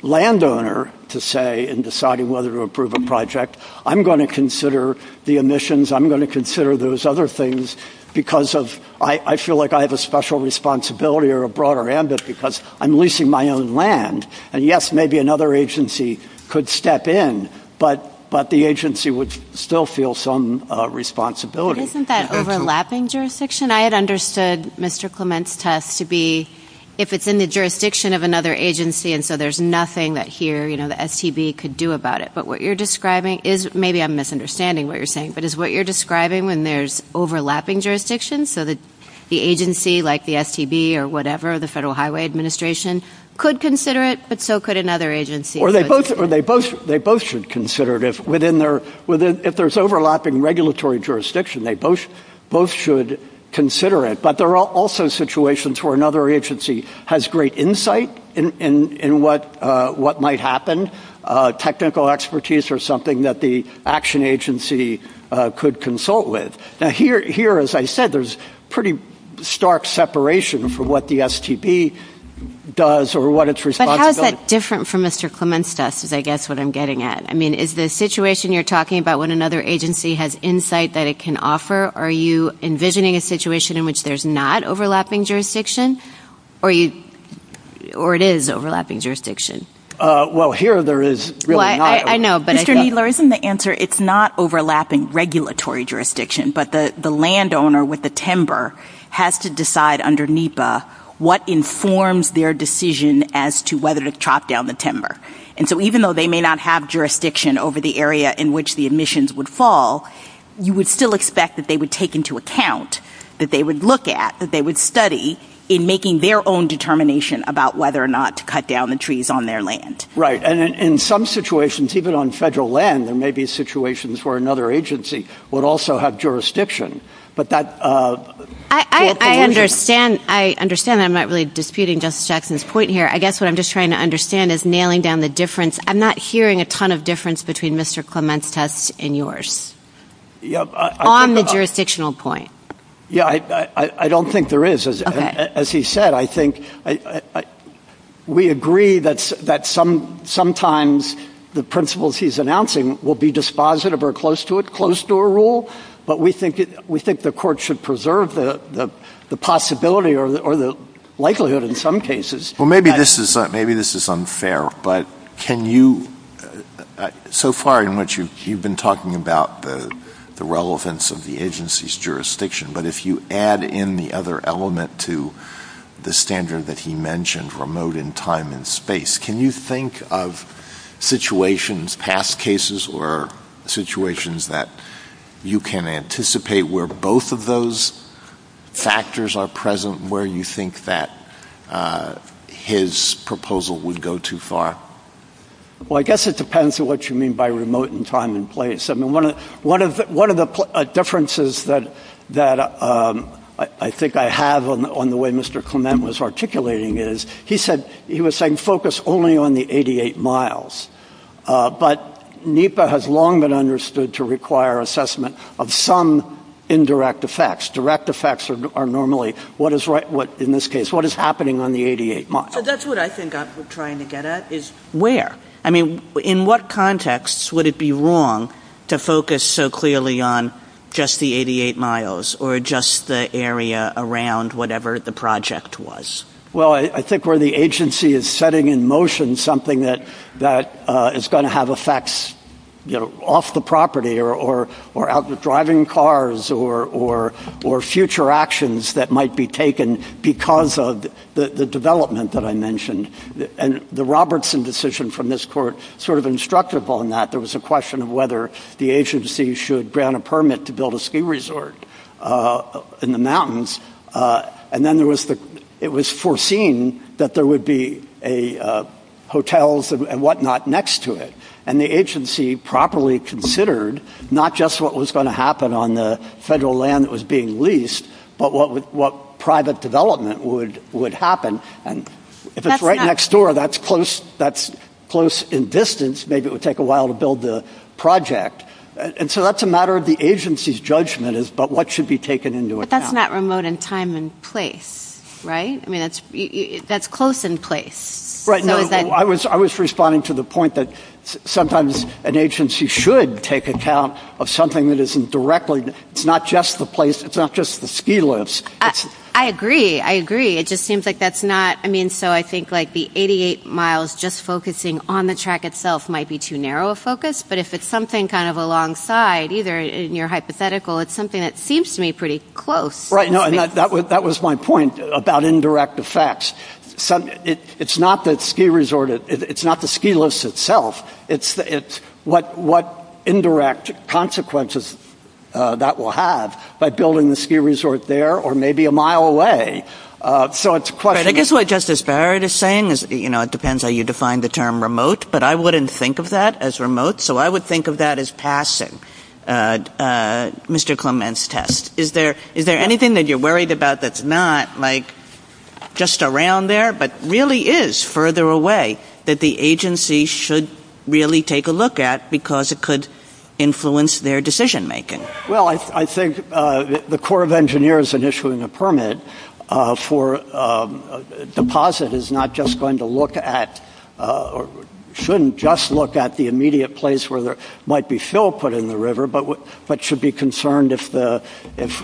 landowner to say in deciding whether to approve a project, I'm going to consider the emissions, I'm going to consider those other things because of I feel like I have a special responsibility or a broader ambit because I'm leasing my own land. And, yes, maybe another agency could step in, but the agency would still feel some responsibility. Isn't that overlapping jurisdiction? I had understood Mr. Clement's test to be if it's in the jurisdiction of another agency and so there's nothing that here the STB could do about it. But what you're describing is maybe I'm misunderstanding what you're saying, but is what you're describing when there's overlapping jurisdiction so that the agency like the STB or whatever, the Federal Highway Administration could consider it, but so could another agency. Or they both should consider it. If there's overlapping regulatory jurisdiction, they both should consider it. But there are also situations where another agency has great insight in what might happen, technical expertise or something that the action agency could consult with. Now, here, as I said, there's pretty stark separation for what the STB does or what it's responsible for. But how is that different from Mr. Clement's test is, I guess, what I'm getting at. I mean, is the situation you're talking about when another agency has insight that it can offer, are you envisioning a situation in which there's not overlapping jurisdiction or it is overlapping jurisdiction? Well, here there is really not. I know. Mr. Needler, isn't the answer it's not overlapping regulatory jurisdiction, but the landowner with the timber has to decide under NEPA what informs their decision as to whether to chop down the timber. And so even though they may not have jurisdiction over the area in which the emissions would fall, you would still expect that they would take into account that they would look at, that they would study in making their own determination about whether or not to cut down the trees on their land. Right. And in some situations, even on federal land, there may be situations where another agency would also have jurisdiction. But that I understand. I understand. I'm not really disputing Justice Jackson's point here. I guess what I'm just trying to understand is nailing down the difference. I'm not hearing a ton of difference between Mr. Clement's test and yours on the jurisdictional point. Yeah, I don't think there is. As he said, I think we agree that sometimes the principles he's announcing will be dispositive or close to it, close to a rule. But we think the court should preserve the possibility or the likelihood in some cases. Well, maybe this is unfair, but can you, so far in which you've been talking about the relevance of the agency's jurisdiction, but if you add in the other element to the standard that he mentioned, remote in time and space, can you think of situations, past cases or situations that you can anticipate where both of those factors are present, where you think that his proposal would go too far? Well, I guess it depends on what you mean by remote in time and place. I mean, one of the differences that I think I have on the way Mr. Clement was articulating is, he said, he was saying focus only on the 88 miles. But NEPA has long been understood to require assessment of some indirect effects. Direct effects are normally what is happening on the 88 miles. So that's what I think I'm trying to get at is where. I mean, in what context would it be wrong to focus so clearly on just the 88 miles or just the area around whatever the project was? Well, I think where the agency is setting in motion something that is going to have effects off the property or out the driving cars or future actions that might be taken because of the development that I mentioned. And the Robertson decision from this court sort of instructed on that. There was a question of whether the agency should grant a permit to build a ski resort in the mountains. And then it was foreseen that there would be hotels and whatnot next to it. And the agency properly considered not just what was going to happen on the federal land that was being leased, but what private development would happen. And if it's right next door, that's close in distance. Maybe it would take a while to build the project. And so that's a matter of the agency's judgment is about what should be taken into account. But that's not remote in time and place, right? I mean, that's close in place. I was responding to the point that sometimes an agency should take account of something that isn't directly. It's not just the place. It's not just the ski lifts. I agree. I agree. It just seems like that's not. I mean, so I think like the 88 miles just focusing on the track itself might be too narrow a focus. But if it's something kind of alongside either in your hypothetical, it's something that seems to me pretty close. Right. That was my point about indirect effects. It's not the ski resort. It's not the ski lifts itself. It's what indirect consequences that will have by building the ski resort there or maybe a mile away. So it's a question. I guess what Justice Barrett is saying is, you know, it depends how you define the term remote. But I wouldn't think of that as remote. So I would think of that as passing Mr. Clement's test. Is there anything that you're worried about that's not like just around there but really is further away that the agency should really take a look at because it could influence their decision making? Well, I think the Corps of Engineers in issuing a permit for deposit is not just going to look at or shouldn't just look at the immediate place where there might be fill put in the river, but should be concerned if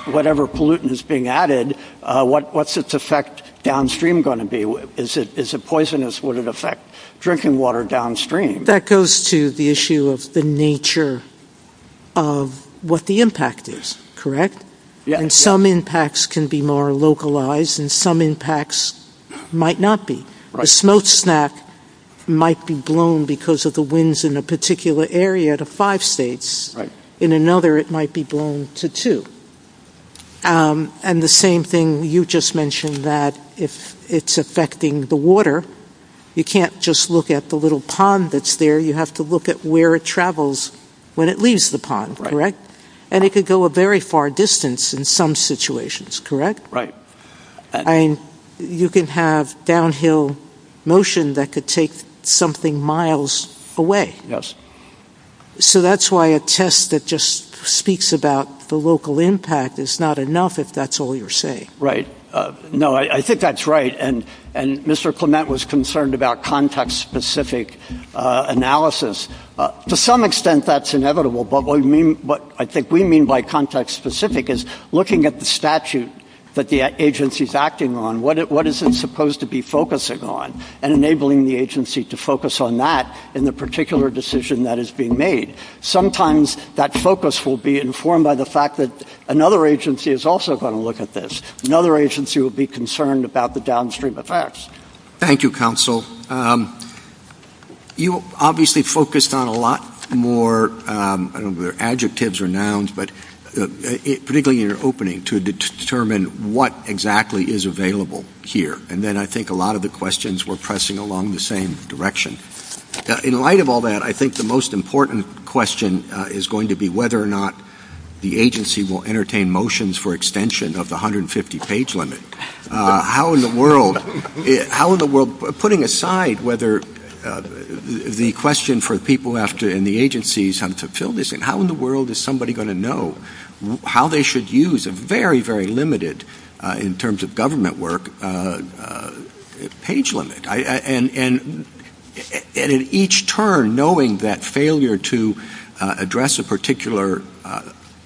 whatever pollutant is being added, what's its effect downstream going to be? Is it poisonous? Would it affect drinking water downstream? That goes to the issue of the nature of what the impact is, correct? Yes. And some impacts can be more localized and some impacts might not be. A smoke snack might be blown because of the winds in a particular area to five states. In another, it might be blown to two. And the same thing you just mentioned that if it's affecting the water, you can't just look at the little pond that's there. You have to look at where it travels when it leaves the pond, correct? And it could go a very far distance in some situations, correct? Right. And you can have downhill motion that could take something miles away. So that's why a test that just speaks about the local impact is not enough if that's all you're saying. Right. No, I think that's right. And Mr. Clement was concerned about context-specific analysis. To some extent that's inevitable, but what I think we mean by context-specific is looking at the statute that the agency is acting on, what is it supposed to be focusing on and enabling the agency to focus on that in the particular decision that is being made. Sometimes that focus will be informed by the fact that another agency is also going to look at this. Another agency will be concerned about the downstream effects. Thank you, counsel. You obviously focused on a lot more adjectives or nouns, particularly in your opening, to determine what exactly is available here. And then I think a lot of the questions were pressing along the same direction. In light of all that, I think the most important question is going to be whether or not the agency will entertain motions for extension of the 150-page limit. How in the world-putting aside whether the question for people in the agency is how in the world is somebody going to know how they should use a very, very limited, in terms of government work, page limit. And in each term, knowing that failure to address a particular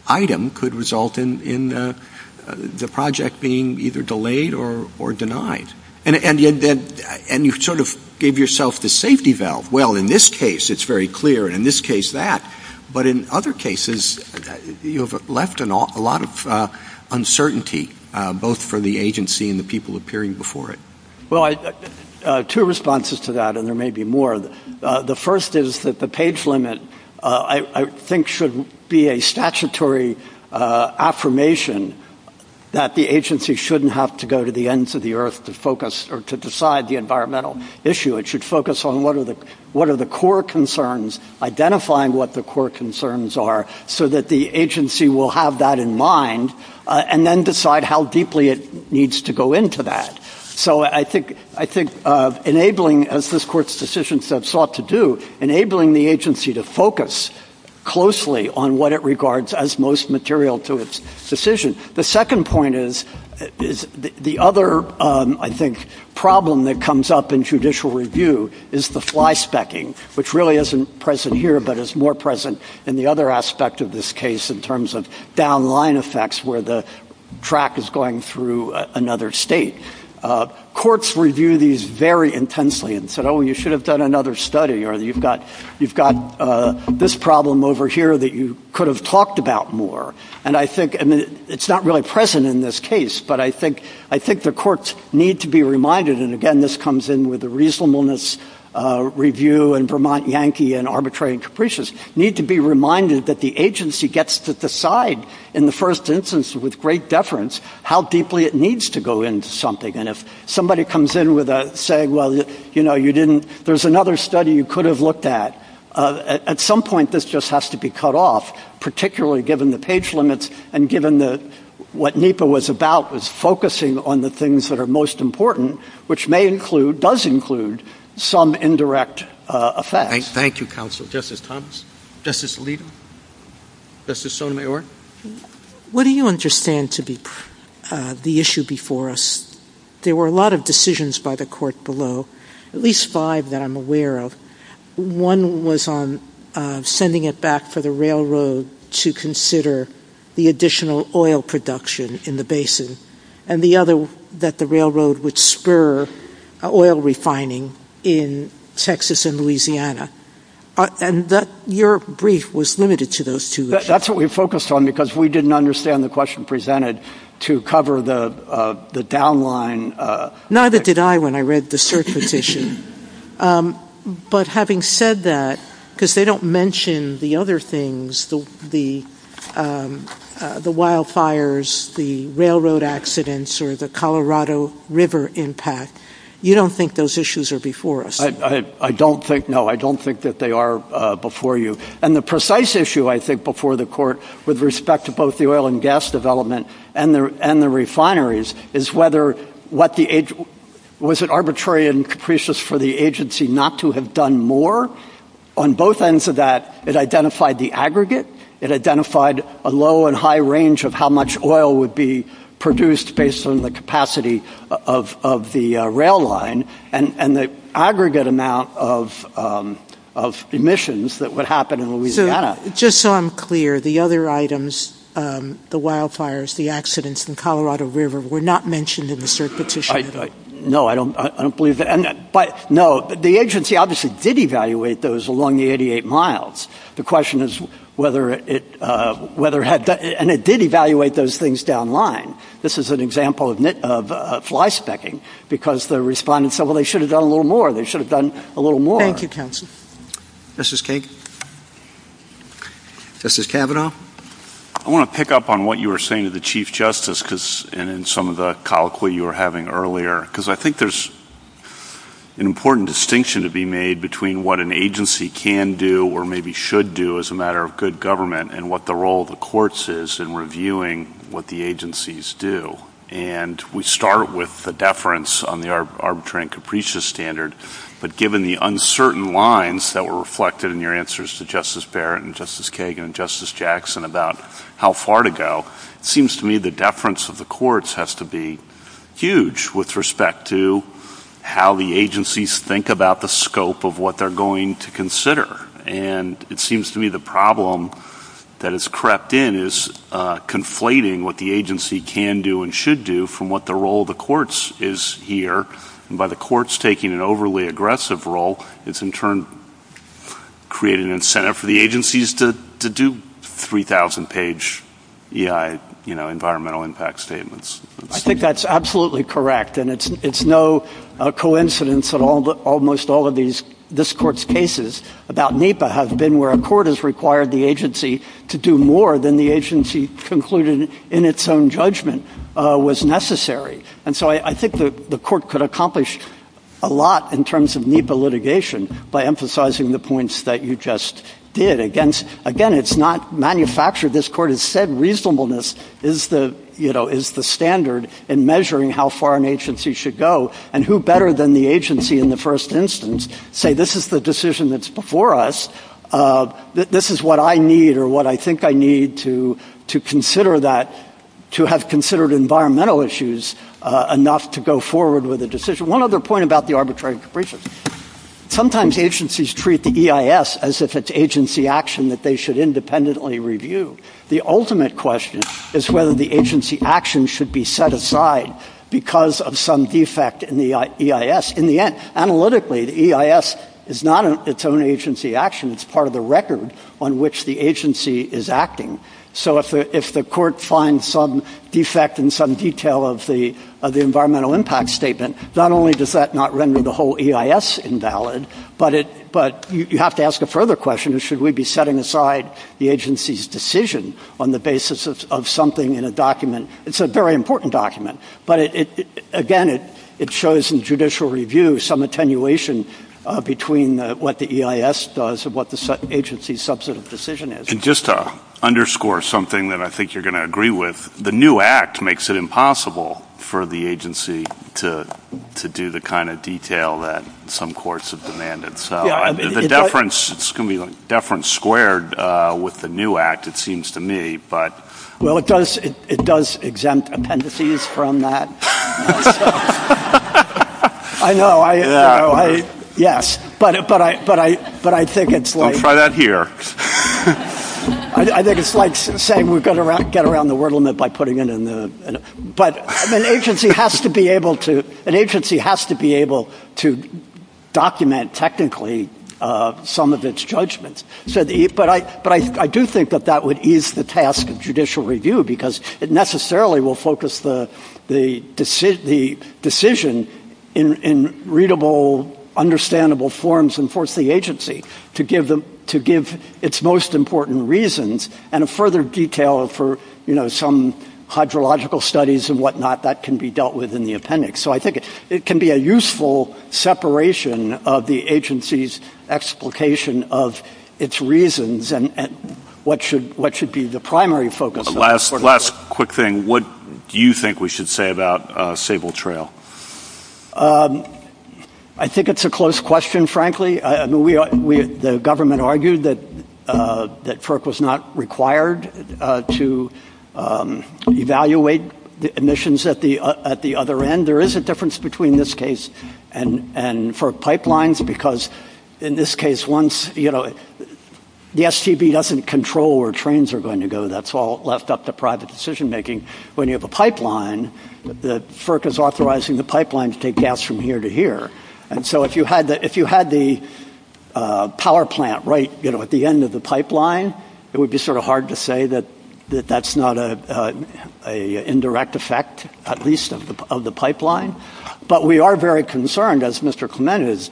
item could result in the project being either delayed or denied. And you sort of gave yourself the safety valve. Well, in this case it is very clear, and in this case that. But in other cases you have left a lot of uncertainty, both for the agency and the people appearing before it. Two responses to that, and there may be more. The first is that the page limit, I think, should be a statutory affirmation that the agency shouldn't have to go to the ends of the earth to decide the environmental issue. It should focus on what are the core concerns, identifying what the core concerns are, so that the agency will have that in mind and then decide how deeply it needs to go into that. So I think enabling, as this Court's decisions have sought to do, enabling the agency to focus closely on what it regards as most material to its decision. The second point is the other, I think, problem that comes up in judicial review is the fly-specking, which really isn't present here, but is more present in the other aspect of this case in terms of down-line effects, where the track is going through another state. Courts review these very intensely and say, oh, you should have done another study, or you've got this problem over here that you could have talked about more. And I think it's not really present in this case, but I think the courts need to be reminded, and again, this comes in with the reasonableness review and Vermont Yankee and arbitrary and capricious, need to be reminded that the agency gets to decide in the first instance with great deference how deeply it needs to go into something. And if somebody comes in with a saying, well, you know, you didn't, there's another study you could have looked at, at some point this just has to be cut off, particularly given the page limits and given that what NEPA was about was focusing on the things that are most important, which may include, does include, some indirect effects. Thank you, counsel. Justice Thomas? Justice Alito? Justice Sotomayor? What do you understand to be the issue before us? There were a lot of decisions by the court below, at least five that I'm aware of. One was on sending it back for the railroad to consider the additional oil production in the basin, and the other that the railroad would spur oil refining in Texas and Louisiana. And your brief was limited to those two. That's what we focused on because we didn't understand the question presented to cover the downline. Neither did I when I read the surface issue. But having said that, because they don't mention the other things, the wildfires, the railroad accidents, or the Colorado River impact, you don't think those issues are before us? I don't think, no, I don't think that they are before you. And the precise issue, I think, before the court with respect to both the oil and gas development and the refineries is whether, was it arbitrary and capricious for the agency not to have done more? On both ends of that, it identified the aggregate. It identified a low and high range of how much oil would be produced based on the capacity of the rail line and the aggregate amount of emissions that would happen in Louisiana. Just so I'm clear, the other items, the wildfires, the accidents, and Colorado River were not mentioned in the surface issue? No, I don't believe that. No, the agency obviously did evaluate those along the 88 miles. The question is whether it had done, and it did evaluate those things downline. This is an example of flyspecking because the respondents said, well, they should have done a little more. They should have done a little more. Thank you, counsel. Justice Kagan? Justice Kavanaugh? I want to pick up on what you were saying to the Chief Justice and in some of the colloquy you were having earlier, because I think there's an important distinction to be made between what an agency can do or maybe should do as a matter of good government and what the role of the courts is in reviewing what the agencies do. And we start with the deference on the arbitrary and capricious standard, but given the uncertain lines that were reflected in your answers to Justice Barrett and Justice Kagan and Justice Jackson about how far to go, it seems to me the deference of the courts has to be huge with respect to how the agencies think about the scope of what they're going to consider. And it seems to me the problem that has crept in is conflating what the agency can do and should do from what the role of the courts is here, and by the courts taking an overly aggressive role, it's in turn created an incentive for the agencies to do 3,000-page EI environmental impact statements. I think that's absolutely correct, and it's no coincidence that almost all of this Court's cases about NEPA have been where a court has required the agency to do more than the agency concluded in its own judgment was necessary. And so I think the Court could accomplish a lot in terms of NEPA litigation by emphasizing the points that you just did. Again, it's not manufactured. This Court has said reasonableness is the standard in measuring how far an agency should go, and who better than the agency in the first instance to say, this is the decision that's before us, this is what I need or what I think I need to consider that, to have considered environmental issues enough to go forward with a decision. One other point about the arbitrary increases. Sometimes agencies treat the EIS as if it's agency action that they should independently review. The ultimate question is whether the agency action should be set aside because of some defect in the EIS. In the end, analytically, the EIS is not its own agency action. It's part of the record on which the agency is acting. So if the Court finds some defect in some detail of the environmental impact statement, not only does that not render the whole EIS invalid, but you have to ask a further question. Should we be setting aside the agency's decision on the basis of something in a document? It's a very important document. But, again, it shows in judicial review some attenuation between what the EIS does and what the agency's substantive decision is. Just to underscore something that I think you're going to agree with, the new Act makes it impossible for the agency to do the kind of detail that some courts have demanded. So the deference squared with the new Act, it seems to me, but... Well, it does exempt appendices from that. I know. I know. Yes. But I think it's like... Don't try that here. I think it's like saying we're going to get around the wordlement by putting it in the... But an agency has to be able to document technically some of its judgments. But I do think that that would ease the task of judicial review because it necessarily will focus the decision in readable, understandable forms and force the agency to give its most important reasons and a further detail for some hydrological studies and whatnot that can be dealt with in the appendix. So I think it can be a useful separation of the agency's explication of its reasons and what should be the primary focus. Last quick thing. What do you think we should say about Sable Trail? I think it's a close question, frankly. The government argued that FERC was not required to evaluate emissions at the other end. There is a difference between this case and FERC pipelines because in this case, once the STB doesn't control where trains are going to go, that's all left up to private decision making. When you have a pipeline, the FERC is authorizing the pipeline to take gas from here to here. And so if you had the power plant right at the end of the pipeline, it would be sort of hard to say that that's not an indirect effect, at least of the pipeline. But we are very concerned, as Mr. Clement is,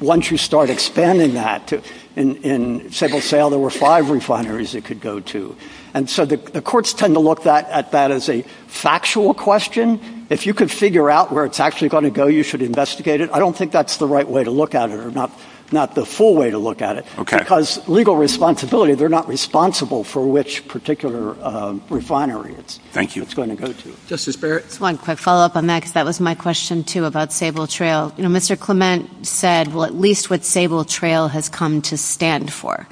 once you start expanding that. In Sable Trail, there were five refineries it could go to. And so the courts tend to look at that as a factual question. If you could figure out where it's actually going to go, you should investigate it. I don't think that's the right way to look at it or not the full way to look at it. Because legal responsibility, they're not responsible for which particular refinery it's going to go to. Justice Barrett? Just one quick follow-up on that because that was my question, too, about Sable Trail. You know, Mr. Clement said, well, at least what Sable Trail has come to stand for.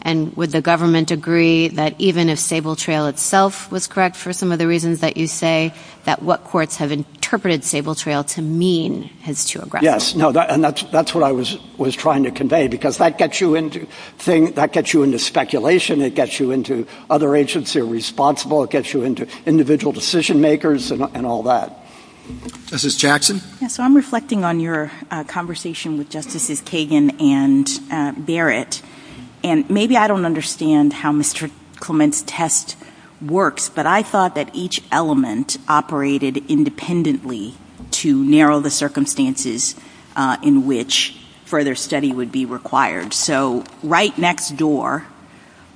And would the government agree that even if Sable Trail itself was correct for some of the reasons that you say, that what courts have interpreted Sable Trail to mean has true ground? Yes, and that's what I was trying to convey, because that gets you into speculation. It gets you into other agencies are responsible. It gets you into individual decision-makers and all that. Justice Jackson? So I'm reflecting on your conversation with Justices Kagan and Barrett. And maybe I don't understand how Mr. Clement's test works. But I thought that each element operated independently to narrow the circumstances in which further study would be required. So right next door,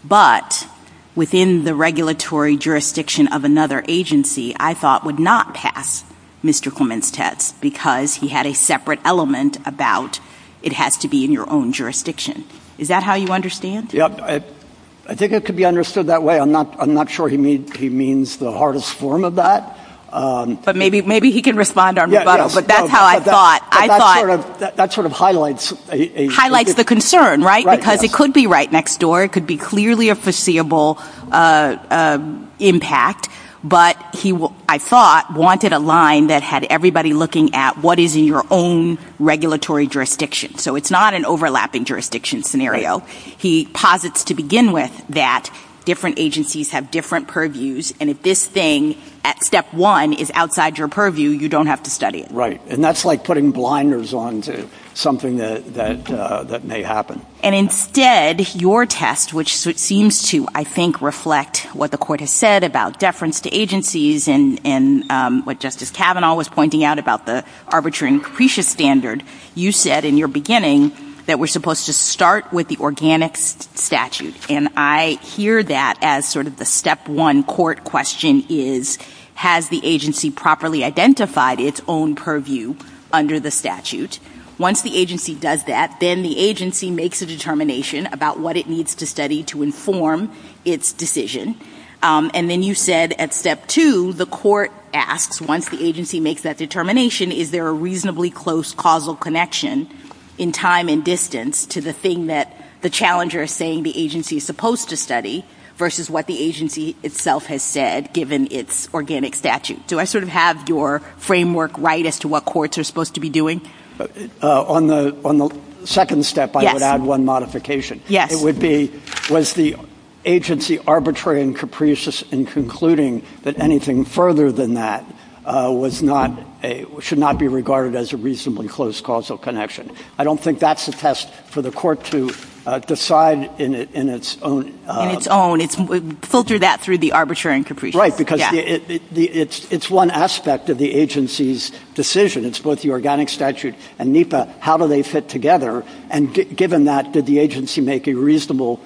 but within the regulatory jurisdiction of another agency, I thought would not pass Mr. Clement's test because he had a separate element about it has to be in your own jurisdiction. Is that how you understand? Yes. I think it could be understood that way. I'm not sure he means the hardest form of that. But maybe he can respond. That's how I thought. I thought. That sort of highlights. Highlights the concern, right? Because it could be right next door. It could be clearly a foreseeable impact. But he, I thought, wanted a line that had everybody looking at what is in your own regulatory jurisdiction. So it's not an overlapping jurisdiction scenario. He posits to begin with that different agencies have different purviews. And if this thing, step one, is outside your purview, you don't have to study it. Right. And that's like putting blinders on to something that may happen. And instead, your test, which seems to, I think, reflect what the Court has said about deference to agencies and what Justice Kavanaugh was pointing out about the arbitrary and capricious standard, you said in your beginning that we're supposed to start with the organic statute. And I hear that as sort of the step one court question is, has the agency properly identified its own purview under the statute? Once the agency does that, then the agency makes a determination about what it needs to study to inform its decision. And then you said at step two, the court asks, once the agency makes that determination, is there a reasonably close causal connection in time and distance to the thing that the challenger is saying the agency is supposed to study versus what the agency itself has said given its organic statute? Do I sort of have your framework right as to what courts are supposed to be doing? On the second step, I would add one modification. Yes. It would be, was the agency arbitrary and capricious in concluding that anything further than that should not be regarded as a reasonably close causal connection? I don't think that's a test for the court to decide in its own. In its own. Filter that through the arbitrary and capricious. Right, because it's one aspect of the agency's decision. It's both the organic statute and NEPA. How do they fit together? And given that, did the agency make a reasonable,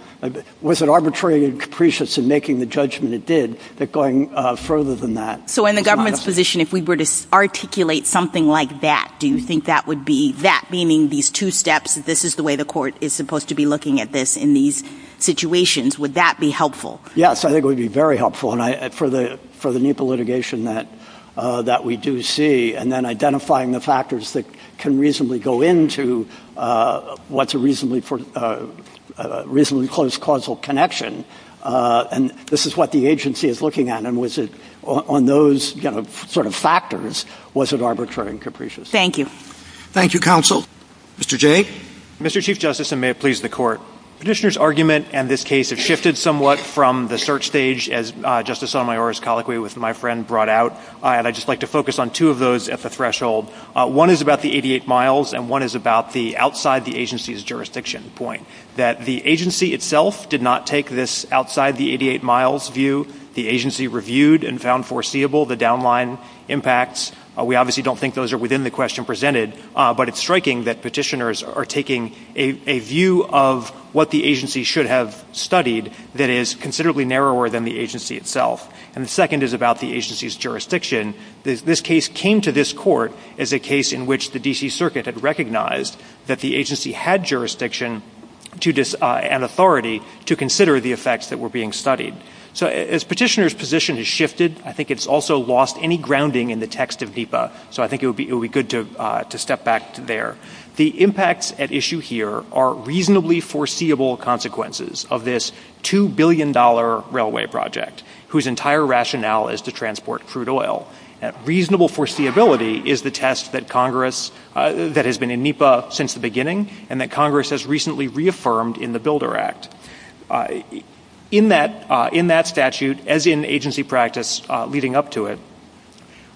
was it arbitrary and capricious in making the judgment it did that going further than that? So in the government's position, if we were to articulate something like that, do you think that would be, that meaning these two steps, that this is the way the court is supposed to be looking at this in these situations, would that be helpful? Yes, I think it would be very helpful for the NEPA litigation that we do see. And then identifying the factors that can reasonably go into what's a reasonably close causal connection. And this is what the agency is looking at. And was it on those sort of factors, was it arbitrary and capricious? Thank you. Thank you, counsel. Mr. Jay. Mr. Chief Justice, and may it please the court. Petitioner's argument in this case has shifted somewhat from the search stage, as Justice Sotomayor's colloquy with my friend brought out. And I'd just like to focus on two of those at the threshold. One is about the 88 miles, and one is about the outside the agency's jurisdiction point. That the agency itself did not take this outside the 88 miles view. The agency reviewed and found foreseeable the downline impacts. We obviously don't think those are within the question presented, but it's striking that petitioners are taking a view of what the agency should have studied that is considerably narrower than the agency itself. And the second is about the agency's jurisdiction. This case came to this court as a case in which the D.C. Circuit had recognized that the agency had jurisdiction and authority to consider the effects that were being studied. So as petitioner's position has shifted, I think it's also lost any grounding in the text of DEPA. So I think it would be good to step back to there. The impacts at issue here are reasonably foreseeable consequences of this $2 billion railway project, whose entire rationale is to transport crude oil. Reasonable foreseeability is the test that has been in NEPA since the beginning, and that Congress has recently reaffirmed in the Builder Act. In that statute, as in agency practice leading up to it,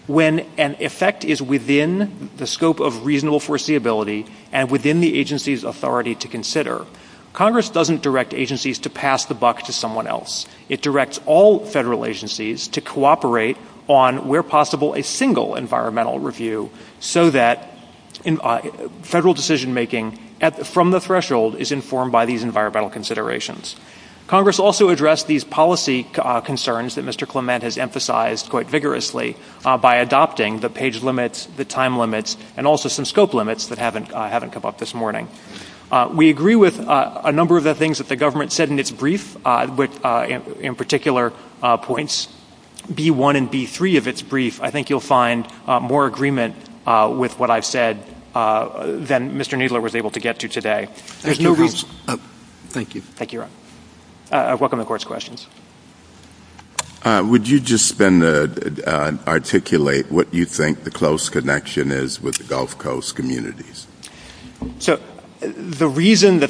when an effect is within the scope of reasonable foreseeability and within the agency's authority to consider, Congress doesn't direct agencies to pass the buck to someone else. It directs all federal agencies to cooperate on, where possible, a single environmental review so that federal decision-making from the threshold is informed by these environmental considerations. Congress also addressed these policy concerns that Mr. Clement has emphasized quite vigorously by adopting the page limits, the time limits, and also some scope limits that haven't come up this morning. We agree with a number of the things that the government said in its brief, in particular points B-1 and B-3 of its brief. I think you'll find more agreement with what I've said than Mr. Needler was able to get to today. Thank you. Thank you, Ron. I welcome the Court's questions. Would you just articulate what you think the close connection is with the Gulf Coast communities? The reason that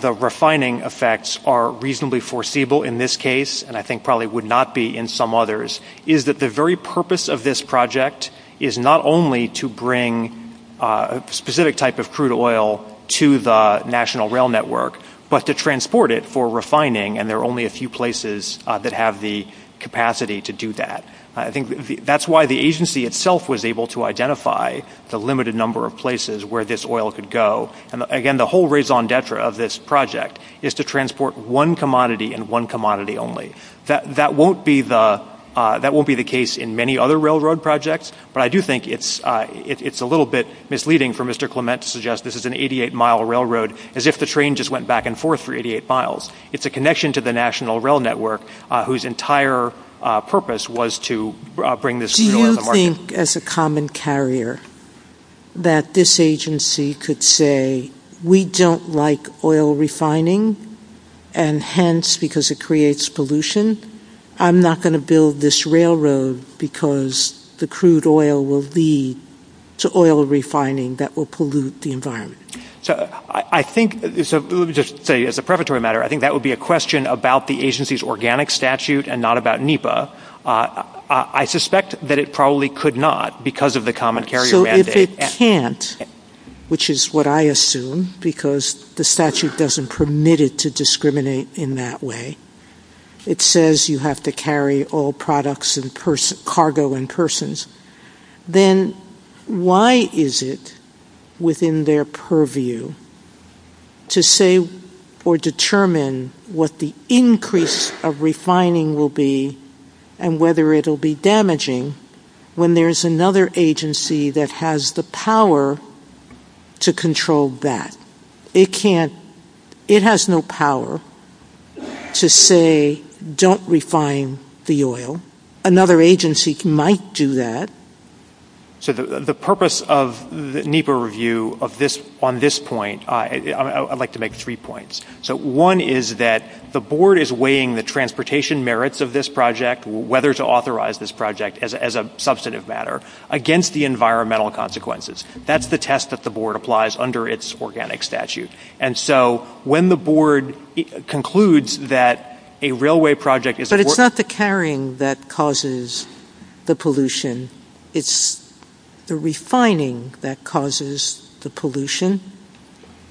the refining effects are reasonably foreseeable in this case, and I think probably would not be in some others, is that the very purpose of this project is not only to bring a specific type of crude oil to the National Rail Network, but to transport it for refining, and there are only a few places that have the capacity to do that. That's why the agency itself was able to identify the limited number of places where this oil could go. Again, the whole raison d'etre of this project is to transport one commodity and one commodity only. That won't be the case in many other railroad projects, but I do think it's a little bit misleading for Mr. Clement to suggest this is an 88-mile railroad as if the train just went back and forth for 88 miles. It's a connection to the National Rail Network whose entire purpose was to bring this crude oil to the market. Do you think, as a common carrier, that this agency could say, we don't like oil refining, and hence, because it creates pollution, I'm not going to build this railroad because the crude oil will lead to oil refining that will pollute the environment? Let me just say, as a preparatory matter, I think that would be a question about the agency's organic statute and not about NEPA. I suspect that it probably could not because of the common carrier mandate. So if it can't, which is what I assume, because the statute doesn't permit it to discriminate in that way, it says you have to carry oil products and cargo in persons, then why is it within their purview to say or determine what the increase of refining will be and whether it will be damaging when there's another agency that has the power to control that? It has no power to say, don't refine the oil. Another agency might do that. The purpose of the NEPA review on this point, I'd like to make three points. One is that the board is weighing the transportation merits of this project, whether to authorize this project as a substantive matter, against the environmental consequences. That's the test that the board applies under its organic statute. And so when the board concludes that a railway project is... But it's not the carrying that causes the pollution. It's the refining that causes the pollution,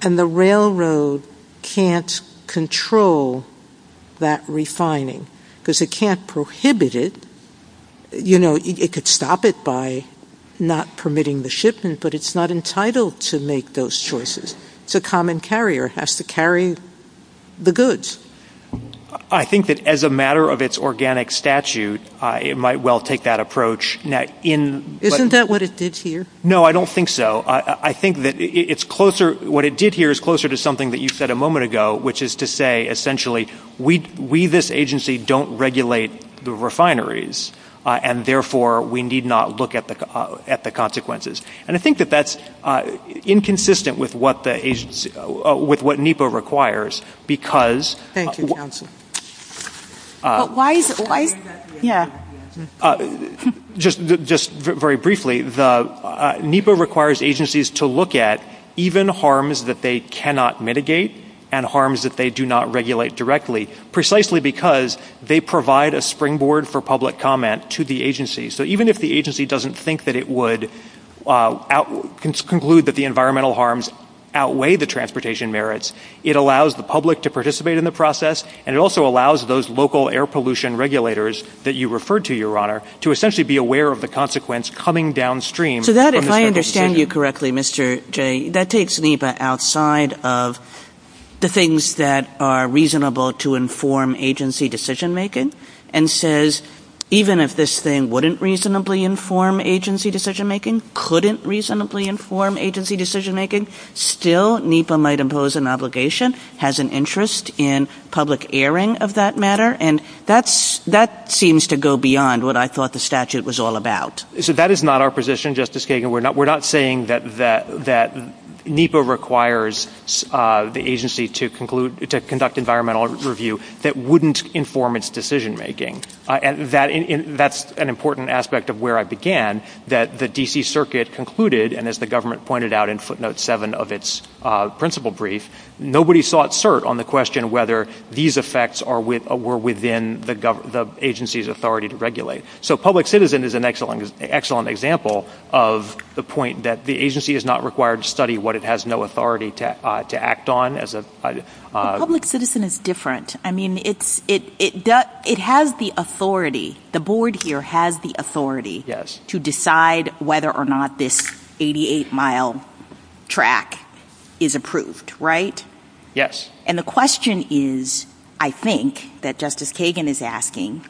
and the railroad can't control that refining because it can't prohibit it. It could stop it by not permitting the shipment, but it's not entitled to make those choices. It's a common carrier. It has to carry the goods. I think that as a matter of its organic statute, it might well take that approach. Isn't that what it did here? No, I don't think so. I think that what it did here is closer to something that you said a moment ago, which is to say essentially we, this agency, don't regulate the refineries, and therefore we need not look at the consequences. And I think that that's inconsistent with what NEPA requires because... Thank you, counsel. Just very briefly, NEPA requires agencies to look at even harms that they cannot mitigate and harms that they do not regulate directly, precisely because they provide a springboard for public comment to the agency. So even if the agency doesn't think that it would conclude that the environmental harms outweigh the transportation merits, it allows the public to participate in the process, and it also allows those local air pollution regulators that you referred to, Your Honor, to essentially be aware of the consequence coming downstream. So that, if I understand you correctly, Mr. Jay, that takes NEPA outside of the things that are reasonable to inform agency decision-making and says even if this thing wouldn't reasonably inform agency decision-making, couldn't reasonably inform agency decision-making, still NEPA might impose an obligation, has an interest in public airing of that matter, and that seems to go beyond what I thought the statute was all about. So that is not our position, Justice Kagan. We're not saying that NEPA requires the agency to conduct environmental review that wouldn't inform its decision-making. That's an important aspect of where I began, that the D.C. Circuit concluded, and as the government pointed out in footnote 7 of its principal brief, nobody sought cert on the question whether these effects were within the agency's authority to regulate. So public citizen is an excellent example of the point that the agency is not required to study what it has no authority to act on. But public citizen is different. I mean, it has the authority, the board here has the authority to decide whether or not this 88-mile track is approved, right? Yes. And the question is, I think, that Justice Kagan is asking,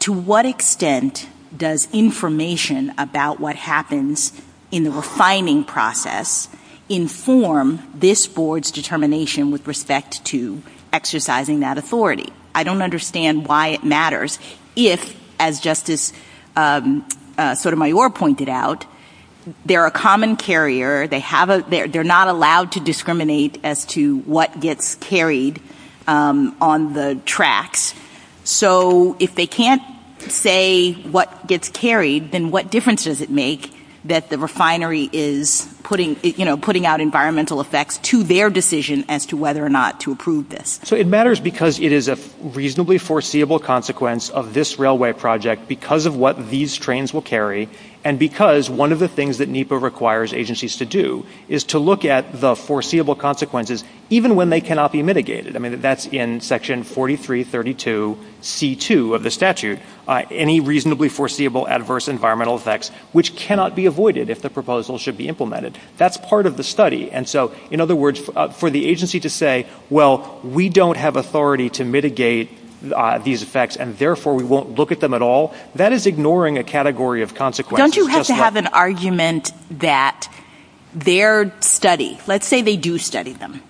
to what extent does information about what happens in the refining process inform this board's determination with respect to exercising that authority? I don't understand why it matters if, as Justice Sotomayor pointed out, they're a common carrier, they're not allowed to discriminate as to what gets carried on the tracks. So if they can't say what gets carried, then what difference does it make that the refinery is putting out environmental effects to their decision as to whether or not to approve this? So it matters because it is a reasonably foreseeable consequence of this railway project because of what these trains will carry, and because one of the things that NEPA requires agencies to do is to look at the foreseeable consequences, even when they cannot be mitigated. I mean, that's in Section 4332c.2 of the statute. Any reasonably foreseeable adverse environmental effects, which cannot be avoided if the proposal should be implemented. That's part of the study. And so, in other words, for the agency to say, well, we don't have authority to mitigate these effects, and therefore we won't look at them at all, that is ignoring a category of consequences. Don't you have to have an argument that their study, let's say they do study them,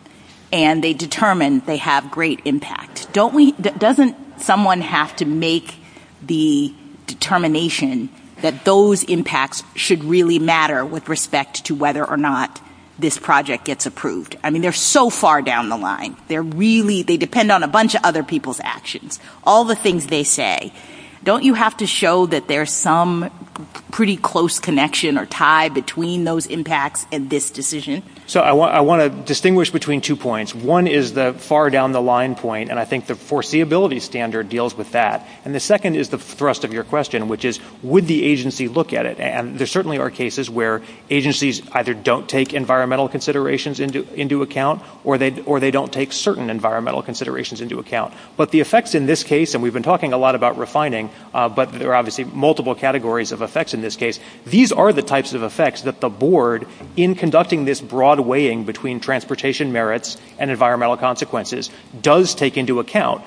and they determine they have great impact. Doesn't someone have to make the determination that those impacts should really matter with respect to whether or not this project gets approved? I mean, they're so far down the line. They depend on a bunch of other people's actions. All the things they say. Don't you have to show that there's some pretty close connection or tie between those impacts and this decision? So I want to distinguish between two points. One is the far down the line point, and I think the foreseeability standard deals with that. And the second is the thrust of your question, which is, would the agency look at it? And there certainly are cases where agencies either don't take environmental considerations into account or they don't take certain environmental considerations into account. But the effects in this case, and we've been talking a lot about refining, but there are obviously multiple categories of effects in this case. These are the types of effects that the board, in conducting this broad weighing between transportation merits and environmental consequences, does take into account.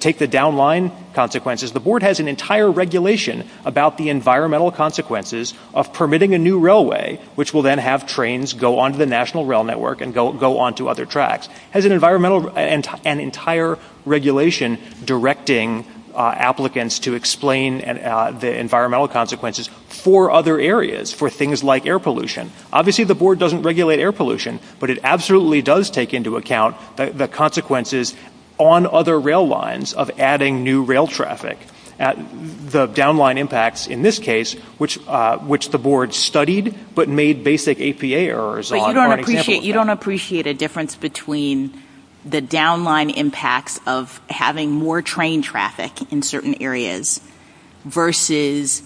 Take the downline consequences. The board has an entire regulation about the environmental consequences of permitting a new railway, which will then have trains go onto the national rail network and go onto other tracks. It has an entire regulation directing applicants to explain the environmental consequences for other areas, for things like air pollution. Obviously, the board doesn't regulate air pollution, but it absolutely does take into account the consequences on other rail lines of adding new rail traffic. The downline impacts in this case, which the board studied but made basic APA errors on. You don't appreciate a difference between the downline impacts of having more train traffic in certain areas versus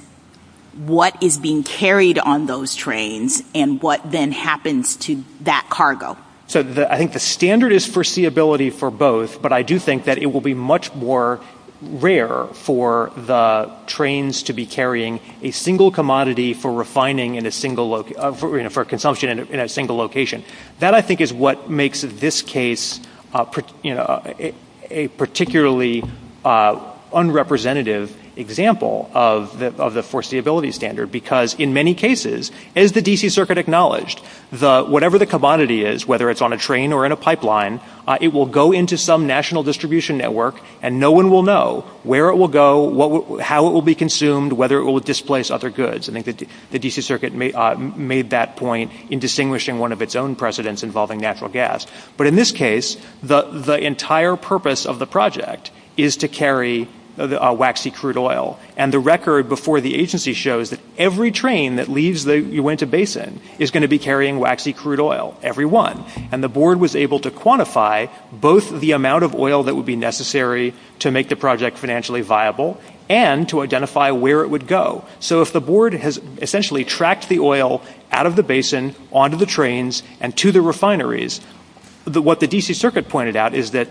what is being carried on those trains and what then happens to that cargo. So I think the standard is foreseeability for both, but I do think that it will be much more rare for the trains to be carrying a single commodity for refining for consumption in a single location. That, I think, is what makes this case a particularly unrepresentative example of the foreseeability standard, because in many cases, as the D.C. Circuit acknowledged, whatever the commodity is, whether it's on a train or in a pipeline, it will go into some national distribution network and no one will know where it will go, how it will be consumed, whether it will displace other goods. I think the D.C. Circuit made that point in distinguishing one of its own precedents involving natural gas. But in this case, the entire purpose of the project is to carry waxy crude oil. And the record before the agency shows that every train that leaves the Uinta Basin is going to be carrying waxy crude oil, every one. And the board was able to quantify both the amount of oil that would be necessary to make the project financially viable and to identify where it would go. So if the board has essentially tracked the oil out of the basin, onto the trains, and to the refineries, what the D.C. Circuit pointed out is that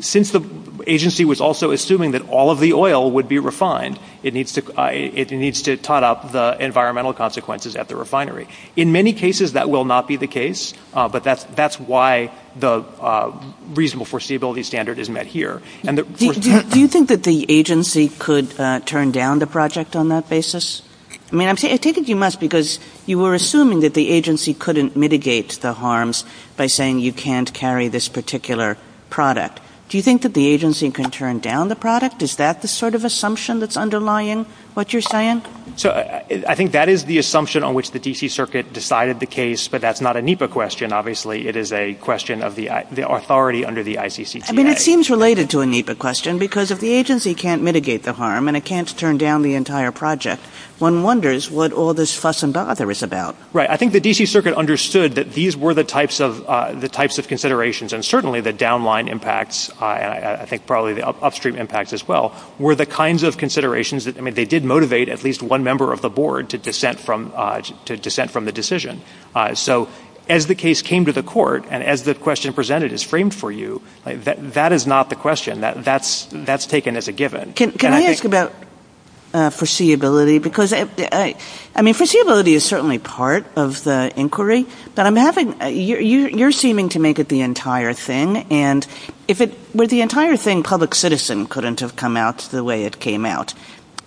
since the agency was also assuming that all of the oil would be refined, it needs to tot up the environmental consequences at the refinery. In many cases, that will not be the case, but that's why the reasonable foreseeability standard is met here. Do you think that the agency could turn down the project on that basis? I take it you must because you were assuming that the agency couldn't mitigate the harms by saying you can't carry this particular product. Do you think that the agency can turn down the product? Is that the sort of assumption that's underlying what you're saying? I think that is the assumption on which the D.C. Circuit decided the case, but that's not a NEPA question, obviously. It is a question of the authority under the ICCDA. It seems related to a NEPA question because if the agency can't mitigate the harm and it can't turn down the entire project, one wonders what all this fuss and bother is about. I think the D.C. Circuit understood that these were the types of considerations, and certainly the downline impacts, I think probably the upstream impacts as well, were the kinds of considerations that did motivate at least one member of the board to dissent from the decision. So as the case came to the court and as the question presented is framed for you, that is not the question. That's taken as a given. Can I ask about foreseeability? Because foreseeability is certainly part of the inquiry, but you're seeming to make it the entire thing, and if it were the entire thing, public citizen couldn't have come out the way it came out,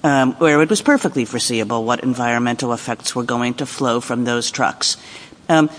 where it was perfectly foreseeable what environmental effects were going to flow from those trucks.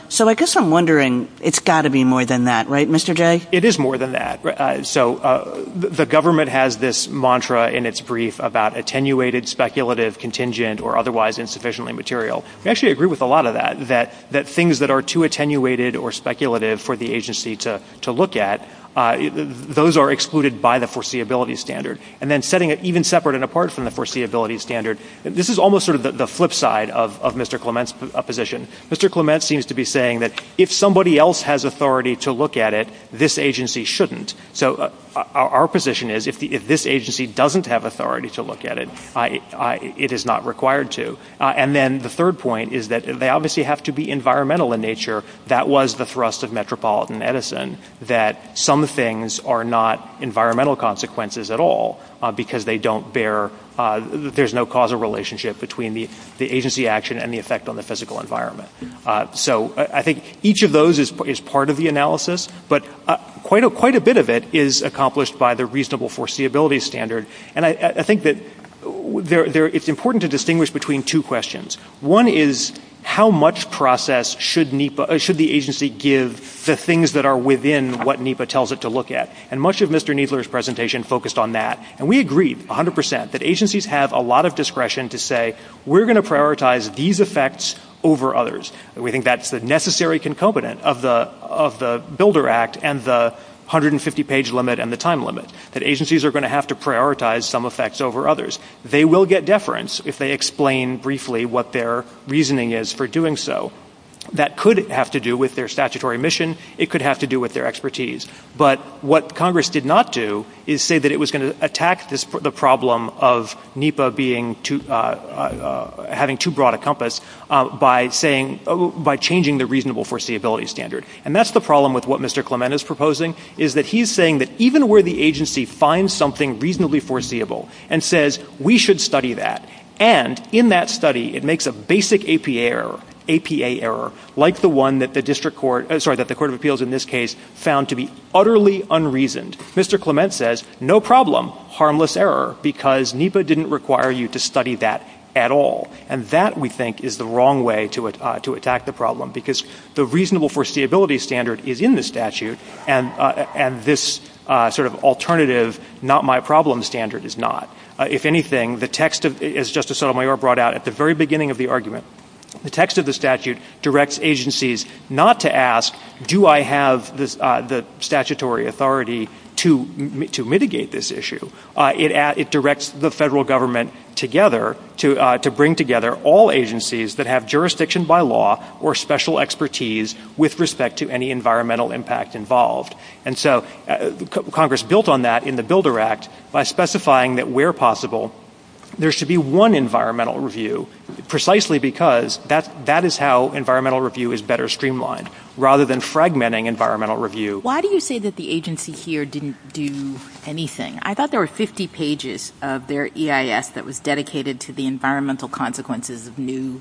So I guess I'm wondering, it's got to be more than that, right, Mr. Jay? It is more than that. So the government has this mantra in its brief about attenuated, speculative, contingent, or otherwise insufficiently material. We actually agree with a lot of that, that things that are too attenuated or speculative for the agency to look at, those are excluded by the foreseeability standard. And then setting it even separate and apart from the foreseeability standard, this is almost sort of the flip side of Mr. Clement's position. Mr. Clement seems to be saying that if somebody else has authority to look at it, this agency shouldn't. So our position is if this agency doesn't have authority to look at it, it is not required to. And then the third point is that they obviously have to be environmental in nature. That was the thrust of Metropolitan Edison that some things are not environmental consequences at all because there's no causal relationship between the agency action and the effect on the physical environment. So I think each of those is part of the analysis, but quite a bit of it is accomplished by the reasonable foreseeability standard. And I think that it's important to distinguish between two questions. One is how much process should the agency give the things that are within what NEPA tells it to look at. And much of Mr. Kneedler's presentation focused on that. And we agree 100% that agencies have a lot of discretion to say, we're going to prioritize these effects over others. We think that's the necessary concomitant of the Builder Act and the 150-page limit and the time limit, that agencies are going to have to prioritize some effects over others. They will get deference if they explain briefly what their reasoning is for doing so. That could have to do with their statutory mission. It could have to do with their expertise. But what Congress did not do is say that it was going to attack the problem of NEPA having too broad a compass by changing the reasonable foreseeability standard. And that's the problem with what Mr. Clement is proposing, is that he's saying that even where the agency finds something reasonably foreseeable and says, we should study that, and in that study it makes a basic APA error, like the one that the Court of Appeals in this case found to be utterly unreasoned. Mr. Clement says, no problem, harmless error, because NEPA didn't require you to study that at all. And that, we think, is the wrong way to attack the problem, because the reasonable foreseeability standard is in the statute, and this sort of alternative not-my-problem standard is not. If anything, as Justice Sotomayor brought out at the very beginning of the argument, the text of the statute directs agencies not to ask, do I have the statutory authority to mitigate this issue? It directs the federal government together to bring together all agencies that have jurisdiction by law or special expertise with respect to any environmental impact involved. And so Congress built on that in the Builder Act by specifying that, where possible, there should be one environmental review, precisely because that is how environmental review is better streamlined, rather than fragmenting environmental review. Why do you say that the agency here didn't do anything? I thought there were 50 pages of their EIS that was dedicated to the environmental consequences of new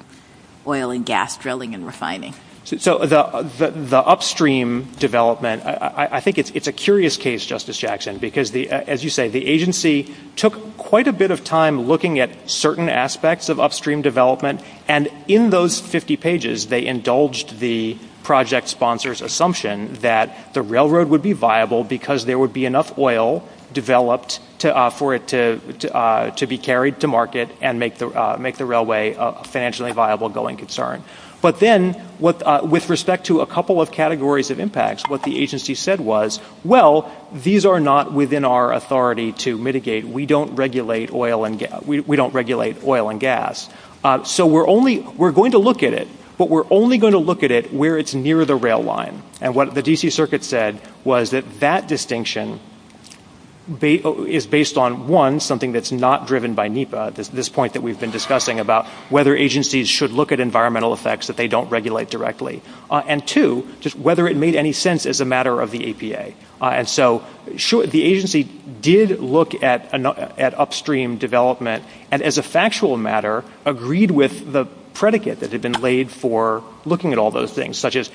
oil and gas drilling and refining. So the upstream development, I think it's a curious case, Justice Jackson, because, as you say, the agency took quite a bit of time looking at certain aspects of upstream development, and in those 50 pages they indulged the project sponsor's assumption that the railroad would be viable because there would be enough oil developed for it to be carried to market and make the railway a financially viable going concern. But then, with respect to a couple of categories of impacts, what the agency said was, well, these are not within our authority to mitigate. We don't regulate oil and gas. So we're going to look at it, but we're only going to look at it where it's near the rail line. And what the D.C. Circuit said was that that distinction is based on, one, something that's not driven by NEPA, this point that we've been discussing, about whether agencies should look at environmental effects that they don't regulate directly, and two, whether it made any sense as a matter of the APA. And so the agency did look at upstream development and, as a factual matter, agreed with the predicate that had been laid for looking at all those things, such as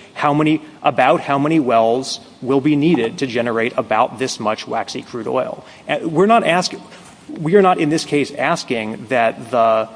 about how many wells will be needed to generate about this much waxy crude oil. We're not, in this case, asking that the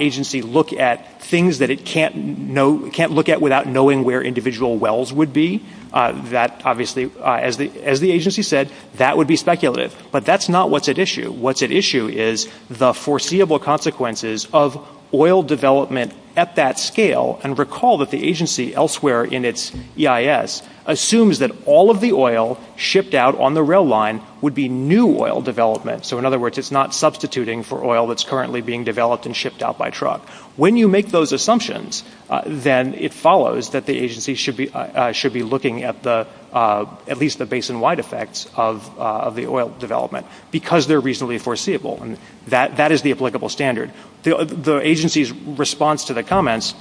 agency look at things that it can't look at without knowing where individual wells would be. Obviously, as the agency said, that would be speculative. But that's not what's at issue. What's at issue is the foreseeable consequences of oil development at that scale. And recall that the agency elsewhere in its EIS assumes that all of the oil shipped out on the rail line would be new oil development. So, in other words, it's not substituting for oil that's currently being developed and shipped out by truck. When you make those assumptions, then it follows that the agency should be looking at at least the basin-wide effects of the oil development because they're reasonably foreseeable, and that is the applicable standard. And the agency's response to the comments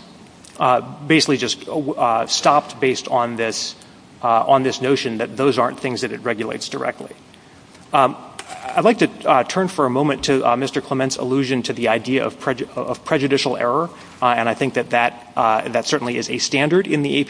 basically just stopped based on this notion that those aren't things that it regulates directly. I'd like to turn for a moment to Mr. Clement's allusion to the idea of prejudicial error, and I think that that certainly is a standard in the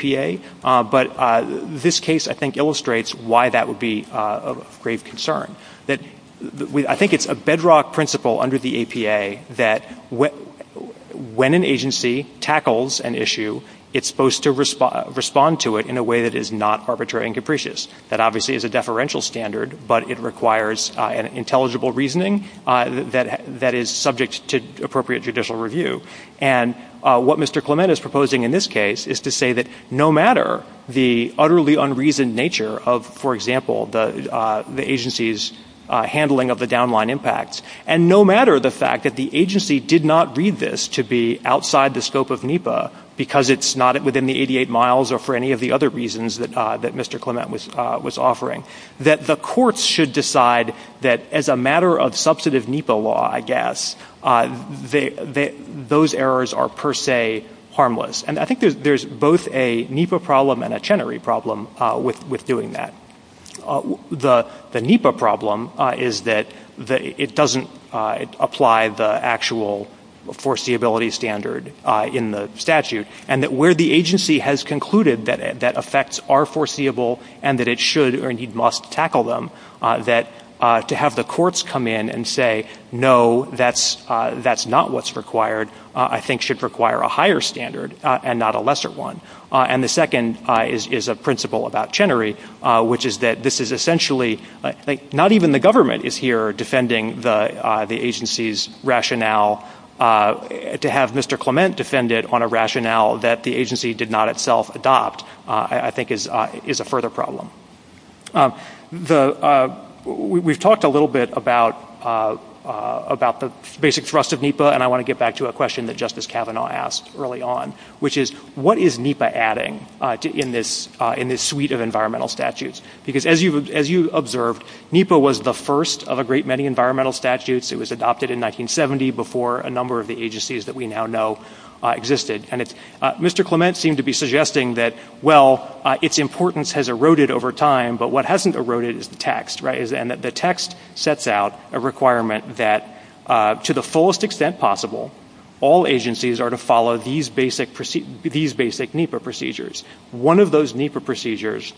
APA. But this case, I think, illustrates why that would be of great concern. I think it's a bedrock principle under the APA that when an agency tackles an issue, it's supposed to respond to it in a way that is not arbitrary and capricious. That obviously is a deferential standard, but it requires an intelligible reasoning that is subject to appropriate judicial review. And what Mr. Clement is proposing in this case is to say that no matter the utterly unreasoned nature of, for example, the agency's handling of the downline impacts, and no matter the fact that the agency did not read this to be outside the scope of NEPA because it's not within the 88 miles or for any of the other reasons that Mr. Clement was offering, that the courts should decide that as a matter of substantive NEPA law, I guess, those errors are per se harmless. And I think there's both a NEPA problem and a Chenery problem with doing that. The NEPA problem is that it doesn't apply the actual foreseeability standard in the statute, and that where the agency has concluded that effects are foreseeable and that it should or indeed must tackle them, that to have the courts come in and say, no, that's not what's required, I think should require a higher standard and not a lesser one. And the second is a principle about Chenery, which is that this is essentially, not even the government is here defending the agency's rationale. To have Mr. Clement defend it on a rationale that the agency did not itself adopt, I think, is a further problem. We've talked a little bit about the basic thrust of NEPA, and I want to get back to a question that Justice Kavanaugh asked early on, which is what is NEPA adding in this suite of environmental statutes? Because as you observed, NEPA was the first of a great many environmental statutes. It was adopted in 1970 before a number of the agencies that we now know existed. And Mr. Clement seemed to be suggesting that, well, its importance has eroded over time, but what hasn't eroded is the text, right? And that the text sets out a requirement that to the fullest extent possible, all agencies are to follow these basic NEPA procedures. One of those NEPA procedures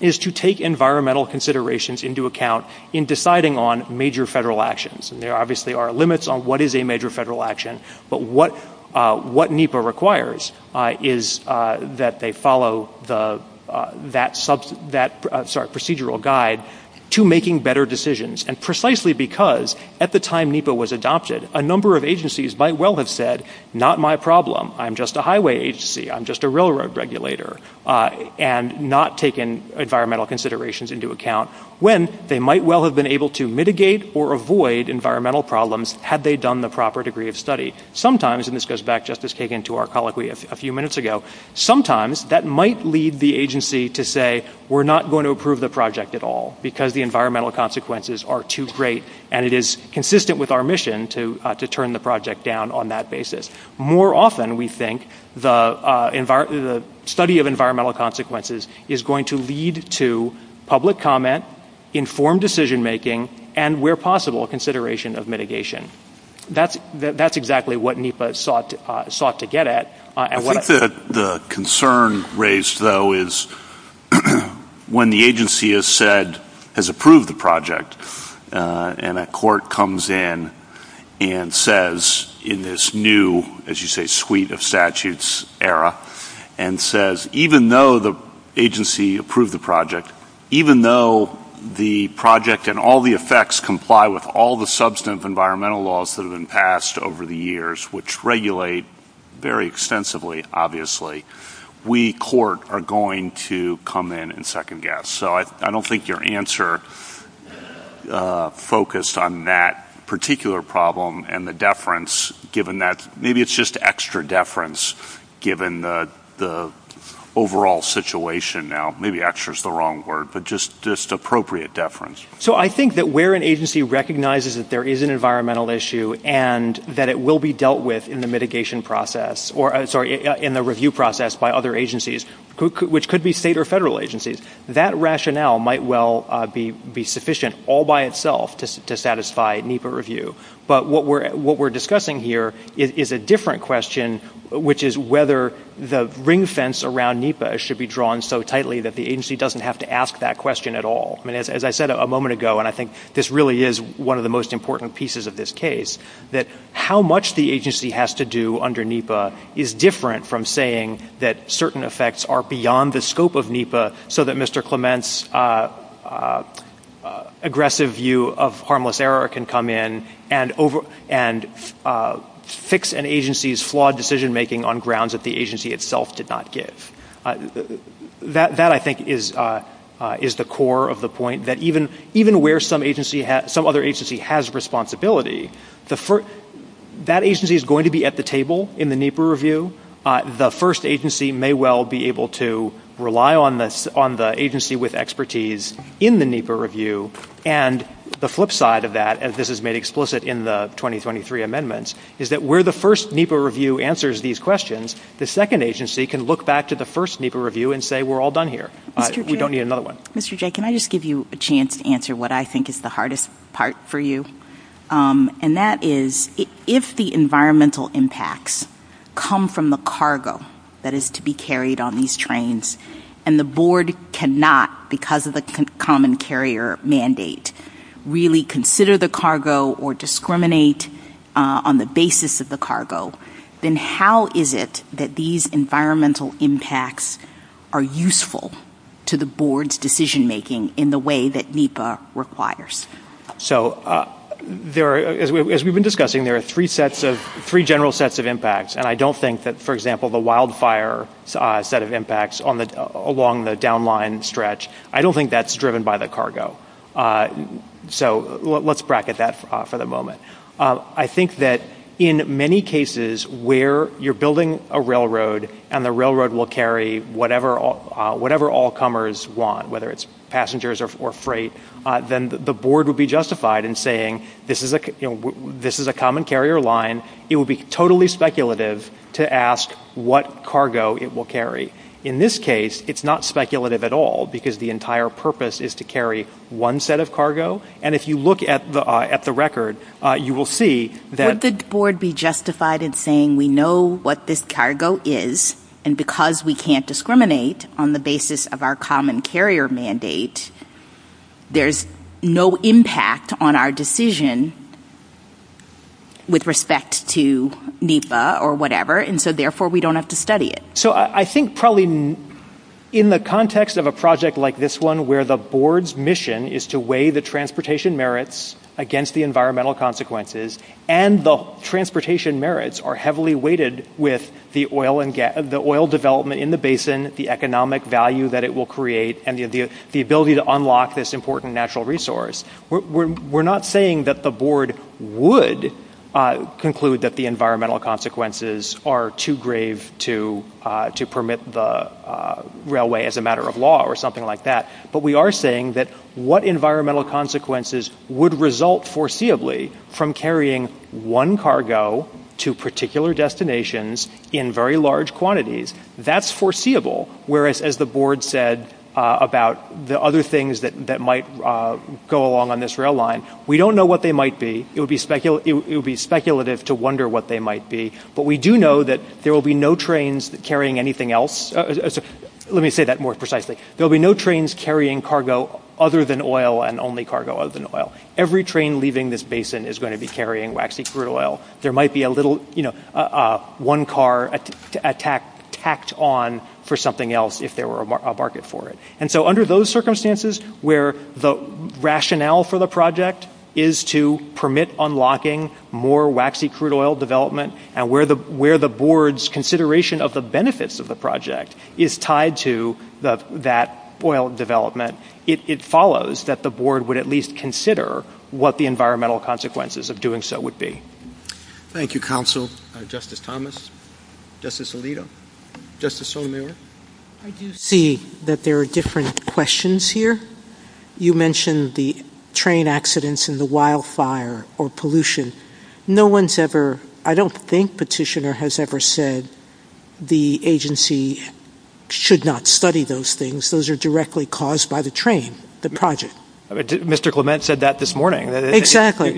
is to take environmental considerations into account in deciding on major federal actions. There obviously are limits on what is a major federal action, but what NEPA requires is that they follow that procedural guide to making better decisions. And precisely because at the time NEPA was adopted, a number of agencies might well have said, not my problem, I'm just a highway agency, I'm just a railroad regulator, and not taken environmental considerations into account, when they might well have been able to mitigate or avoid environmental problems had they done the proper degree of study. Sometimes, and this goes back, Justice Kagan, to our colloquy a few minutes ago, sometimes that might lead the agency to say, we're not going to approve the project at all because the environmental consequences are too great, and it is consistent with our mission to turn the project down on that basis. More often, we think, the study of environmental consequences is going to lead to public comment, informed decision-making, and where possible, consideration of mitigation. That's exactly what NEPA sought to get at. I think the concern raised, though, is when the agency has said, has approved the project, and a court comes in and says, in this new, as you say, suite of statutes era, and says, even though the agency approved the project, even though the project and all the effects comply with all the substantive environmental laws that have been passed over the years, which regulate very extensively, obviously, we, court, are going to come in and second-guess. So I don't think your answer focused on that particular problem and the deference, given that maybe it's just extra deference given the overall situation now. Maybe extra is the wrong word, but just appropriate deference. So I think that where an agency recognizes that there is an environmental issue and that it will be dealt with in the mitigation process, or, sorry, in the review process by other agencies, which could be state or federal agencies, that rationale might well be sufficient all by itself to satisfy NEPA review. But what we're discussing here is a different question, which is whether the ring fence around NEPA should be drawn so tightly that the agency doesn't have to ask that question at all. As I said a moment ago, and I think this really is one of the most important pieces of this case, that how much the agency has to do under NEPA is different from saying that certain effects are beyond the scope of NEPA so that Mr. Clement's aggressive view of harmless error can come in and fix an agency's flawed decision-making on grounds that the agency itself did not give. That, I think, is the core of the point, that even where some other agency has responsibility, that agency is going to be at the table in the NEPA review. The first agency may well be able to rely on the agency with expertise in the NEPA review. And the flip side of that, as this is made explicit in the 2023 amendments, is that where the first NEPA review answers these questions, the second agency can look back to the first NEPA review and say, we're all done here. We don't need another one. Mr. Jay, can I just give you a chance to answer what I think is the hardest part for you? And that is, if the environmental impacts come from the cargo that is to be carried on these trains and the board cannot, because of the common carrier mandate, really consider the cargo or discriminate on the basis of the cargo, then how is it that these environmental impacts are useful to the board's decision-making in the way that NEPA requires? So, as we've been discussing, there are three general sets of impacts. And I don't think that, for example, the wildfire set of impacts along the downline stretch, I don't think that's driven by the cargo. So let's bracket that for the moment. I think that in many cases where you're building a railroad and the railroad will carry whatever all comers want, whether it's passengers or freight, then the board would be justified in saying, this is a common carrier line. It would be totally speculative to ask what cargo it will carry. In this case, it's not speculative at all, because the entire purpose is to carry one set of cargo. And if you look at the record, you will see that... Would the board be justified in saying, we know what this cargo is, and because we can't discriminate on the basis of our common carrier mandate, there's no impact on our decision with respect to NEPA or whatever, and so therefore we don't have to study it. So I think probably in the context of a project like this one, where the board's mission is to weigh the transportation merits against the environmental consequences, and the transportation merits are heavily weighted with the oil development in the basin, the economic value that it will create, and the ability to unlock this important natural resource. We're not saying that the board would conclude that the environmental consequences are too grave to permit the railway as a matter of law or something like that, but we are saying that what environmental consequences would result foreseeably from carrying one cargo to particular destinations in very large quantities, that's foreseeable, whereas as the board said about the other things that might go along on this rail line, we don't know what they might be. It would be speculative to wonder what they might be, but we do know that there will be no trains carrying anything else. Let me say that more precisely. There will be no trains carrying cargo other than oil and only cargo other than oil. Every train leaving this basin is going to be carrying waxy crude oil. There might be one car tacked on for something else if there were a market for it. And so under those circumstances where the rationale for the project is to permit unlocking more waxy crude oil development and where the board's consideration of the benefits of the project is tied to that oil development, it follows that the board would at least consider what the environmental consequences of doing so would be. Thank you, counsel. Justice Thomas? Justice Alito? Justice Sotomayor? I do see that there are different questions here. You mentioned the train accidents and the wildfire or pollution. I don't think Petitioner has ever said the agency should not study those things. Those are directly caused by the train, the project. Mr. Clement said that this morning. After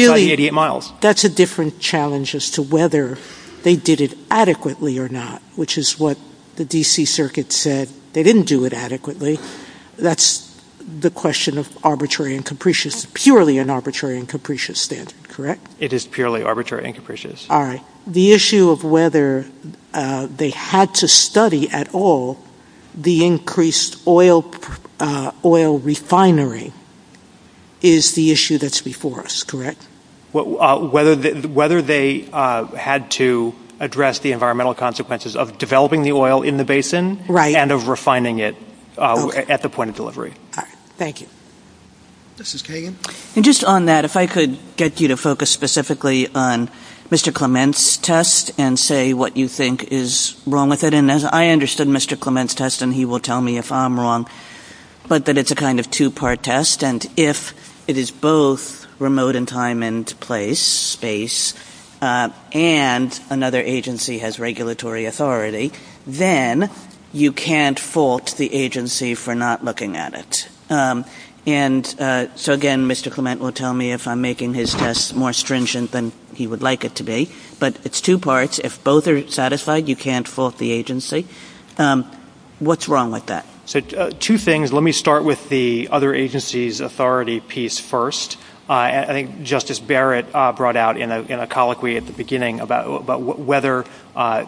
the 88 miles. That's a different challenge as to whether they did it adequately or not, which is what the D.C. Circuit said. They didn't do it adequately. That's the question of purely an arbitrary and capricious standard, correct? It is purely arbitrary and capricious. All right. The issue of whether they had to study at all the increased oil refinery is the issue that's before us, correct? Whether they had to address the environmental consequences of developing the oil in the basin and of refining it at the point of delivery. All right. Thank you. Justice Kagan? Just on that, if I could get you to focus specifically on Mr. Clement's test and say what you think is wrong with it. I understood Mr. Clement's test, and he will tell me if I'm wrong, but that it's a kind of two-part test. If it is both remote in time and place and another agency has regulatory authority, then you can't fault the agency for not looking at it. And so, again, Mr. Clement will tell me if I'm making his test more stringent than he would like it to be. But it's two parts. If both are satisfied, you can't fault the agency. What's wrong with that? Two things. Let me start with the other agency's authority piece first. I think Justice Barrett brought out in a colloquy at the beginning about whether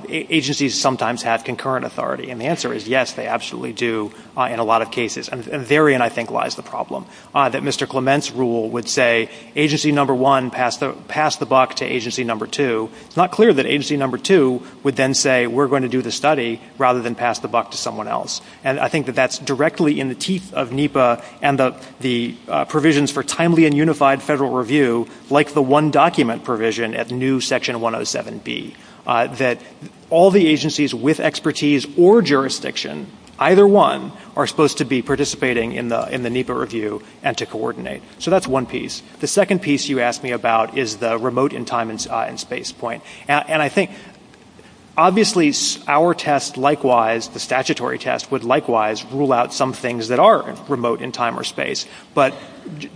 agencies sometimes have concurrent authority, and the answer is yes, they absolutely do in a lot of cases. And therein, I think, lies the problem, that Mr. Clement's rule would say agency number one, pass the buck to agency number two. It's not clear that agency number two would then say we're going to do the study rather than pass the buck to someone else. And I think that that's directly in the teeth of NEPA and the provisions for timely and unified federal review, like the one document provision at new section 107B, that all the agencies with expertise or jurisdiction, either one, are supposed to be participating in the NEPA review and to coordinate. So that's one piece. The second piece you asked me about is the remote and time and space point. And I think, obviously, our test likewise, the statutory test, would likewise rule out some things that are remote in time or space. But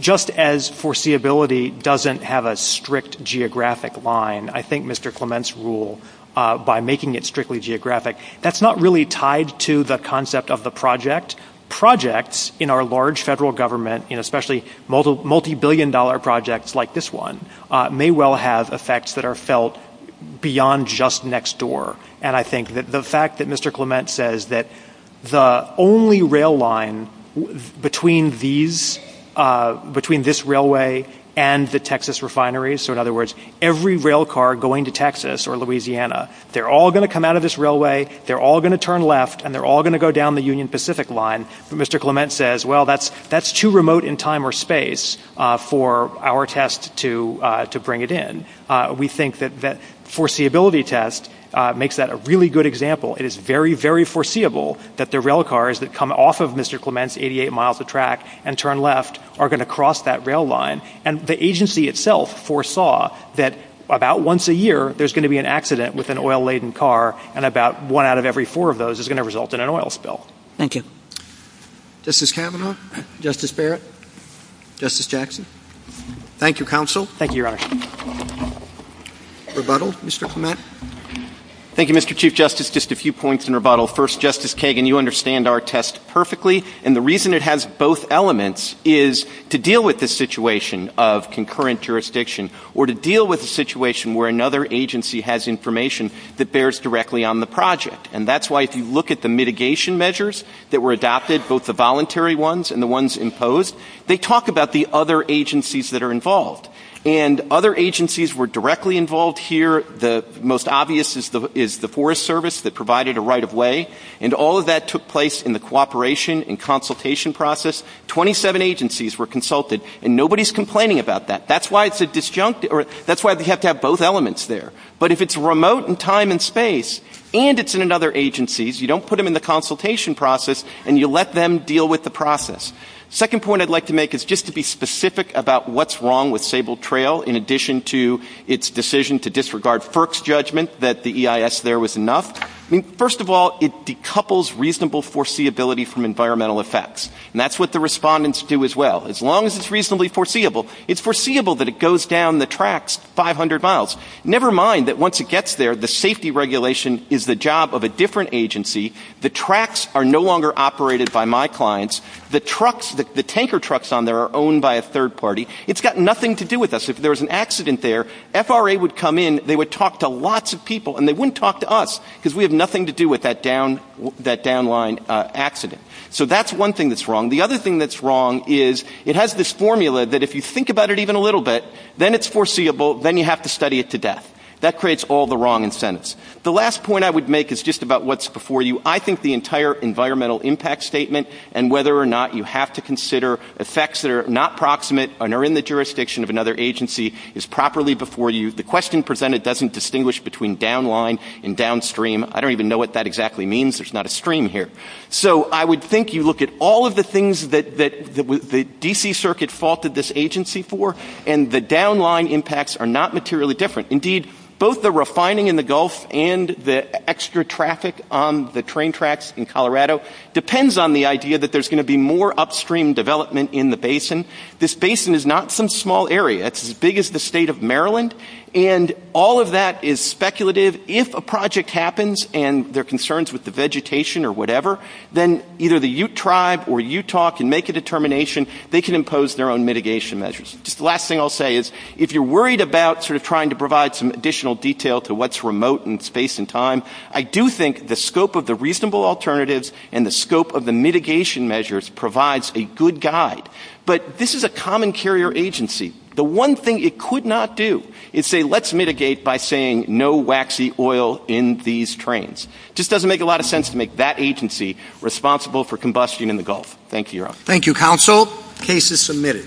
just as foreseeability doesn't have a strict geographic line, I think Mr. Clement's rule, by making it strictly geographic, that's not really tied to the concept of the project. Projects in our large federal government, and especially multi-billion dollar projects like this one, may well have effects that are felt beyond just next door. And I think that the fact that Mr. Clement says that the only rail line between this railway and the Texas refineries, so in other words, every rail car going to Texas or Louisiana, they're all going to come out of this railway, they're all going to turn left, and they're all going to go down the Union Pacific line, but Mr. Clement says, well, that's too remote in time or space for our test to bring it in. We think that the foreseeability test makes that a really good example. It is very, very foreseeable that the rail cars that come off of Mr. Clement's 88 miles of track and turn left are going to cross that rail line. And the agency itself foresaw that about once a year, there's going to be an accident with an oil-laden car, and about one out of every four of those is going to result in an oil spill. Thank you. Justice Kavanaugh? Justice Barrett? Justice Jackson? Thank you, Counsel. Thank you, Your Honor. Rebuttal, Mr. Clement? Thank you, Mr. Chief Justice. Just a few points in rebuttal. First, Justice Kagan, you understand our test perfectly, and the reason it has both elements is to deal with this situation of concurrent jurisdiction or to deal with a situation where another agency has information that bears directly on the project. And that's why if you look at the mitigation measures that were adopted, both the voluntary ones and the ones imposed, they talk about the other agencies that are involved. And other agencies were directly involved here. The most obvious is the Forest Service that provided a right-of-way, and all of that took place in the cooperation and consultation process. Twenty-seven agencies were consulted, and nobody's complaining about that. That's why it's a disjunct, or that's why we have to have both elements there. But if it's remote in time and space, and it's in another agency, you don't put them in the consultation process, and you let them deal with the process. Second point I'd like to make is just to be specific about what's wrong with Sable Trail in addition to its decision to disregard FERC's judgment that the EIS there was enough. First of all, it decouples reasonable foreseeability from environmental effects, and that's what the respondents do as well. As long as it's reasonably foreseeable, it's foreseeable that it goes down the tracks 500 miles. Never mind that once it gets there, the safety regulation is the job of a different agency. The tracks are no longer operated by my clients. The tanker trucks on there are owned by a third party. It's got nothing to do with us. If there was an accident there, FRA would come in, they would talk to lots of people, and they wouldn't talk to us because we have nothing to do with that downline accident. So that's one thing that's wrong. The other thing that's wrong is it has this formula that if you think about it even a little bit, then it's foreseeable, then you have to study it to death. That creates all the wrong incentives. The last point I would make is just about what's before you. I think the entire environmental impact statement and whether or not you have to consider effects that are not proximate and are in the jurisdiction of another agency is properly before you. The question presented doesn't distinguish between downline and downstream. I don't even know what that exactly means. There's not a stream here. So I would think you look at all of the things that the D.C. Circuit faulted this agency for, and the downline impacts are not materially different. Indeed, both the refining in the Gulf and the extra traffic on the train tracks in Colorado depends on the idea that there's going to be more upstream development in the basin. This basin is not some small area. It's as big as the state of Maryland. And all of that is speculative. If a project happens and there are concerns with the vegetation or whatever, then either the Ute tribe or Utah can make a determination. They can impose their own mitigation measures. The last thing I'll say is if you're worried about sort of trying to provide some additional detail to what's remote in space and time, I do think the scope of the reasonable alternatives and the scope of the mitigation measures provides a good guide. But this is a common carrier agency. The one thing it could not do is say let's mitigate by saying no waxy oil in these trains. It just doesn't make a lot of sense to make that agency responsible for combustion in the Gulf. Thank you, Your Honor. Thank you, counsel. Case is submitted.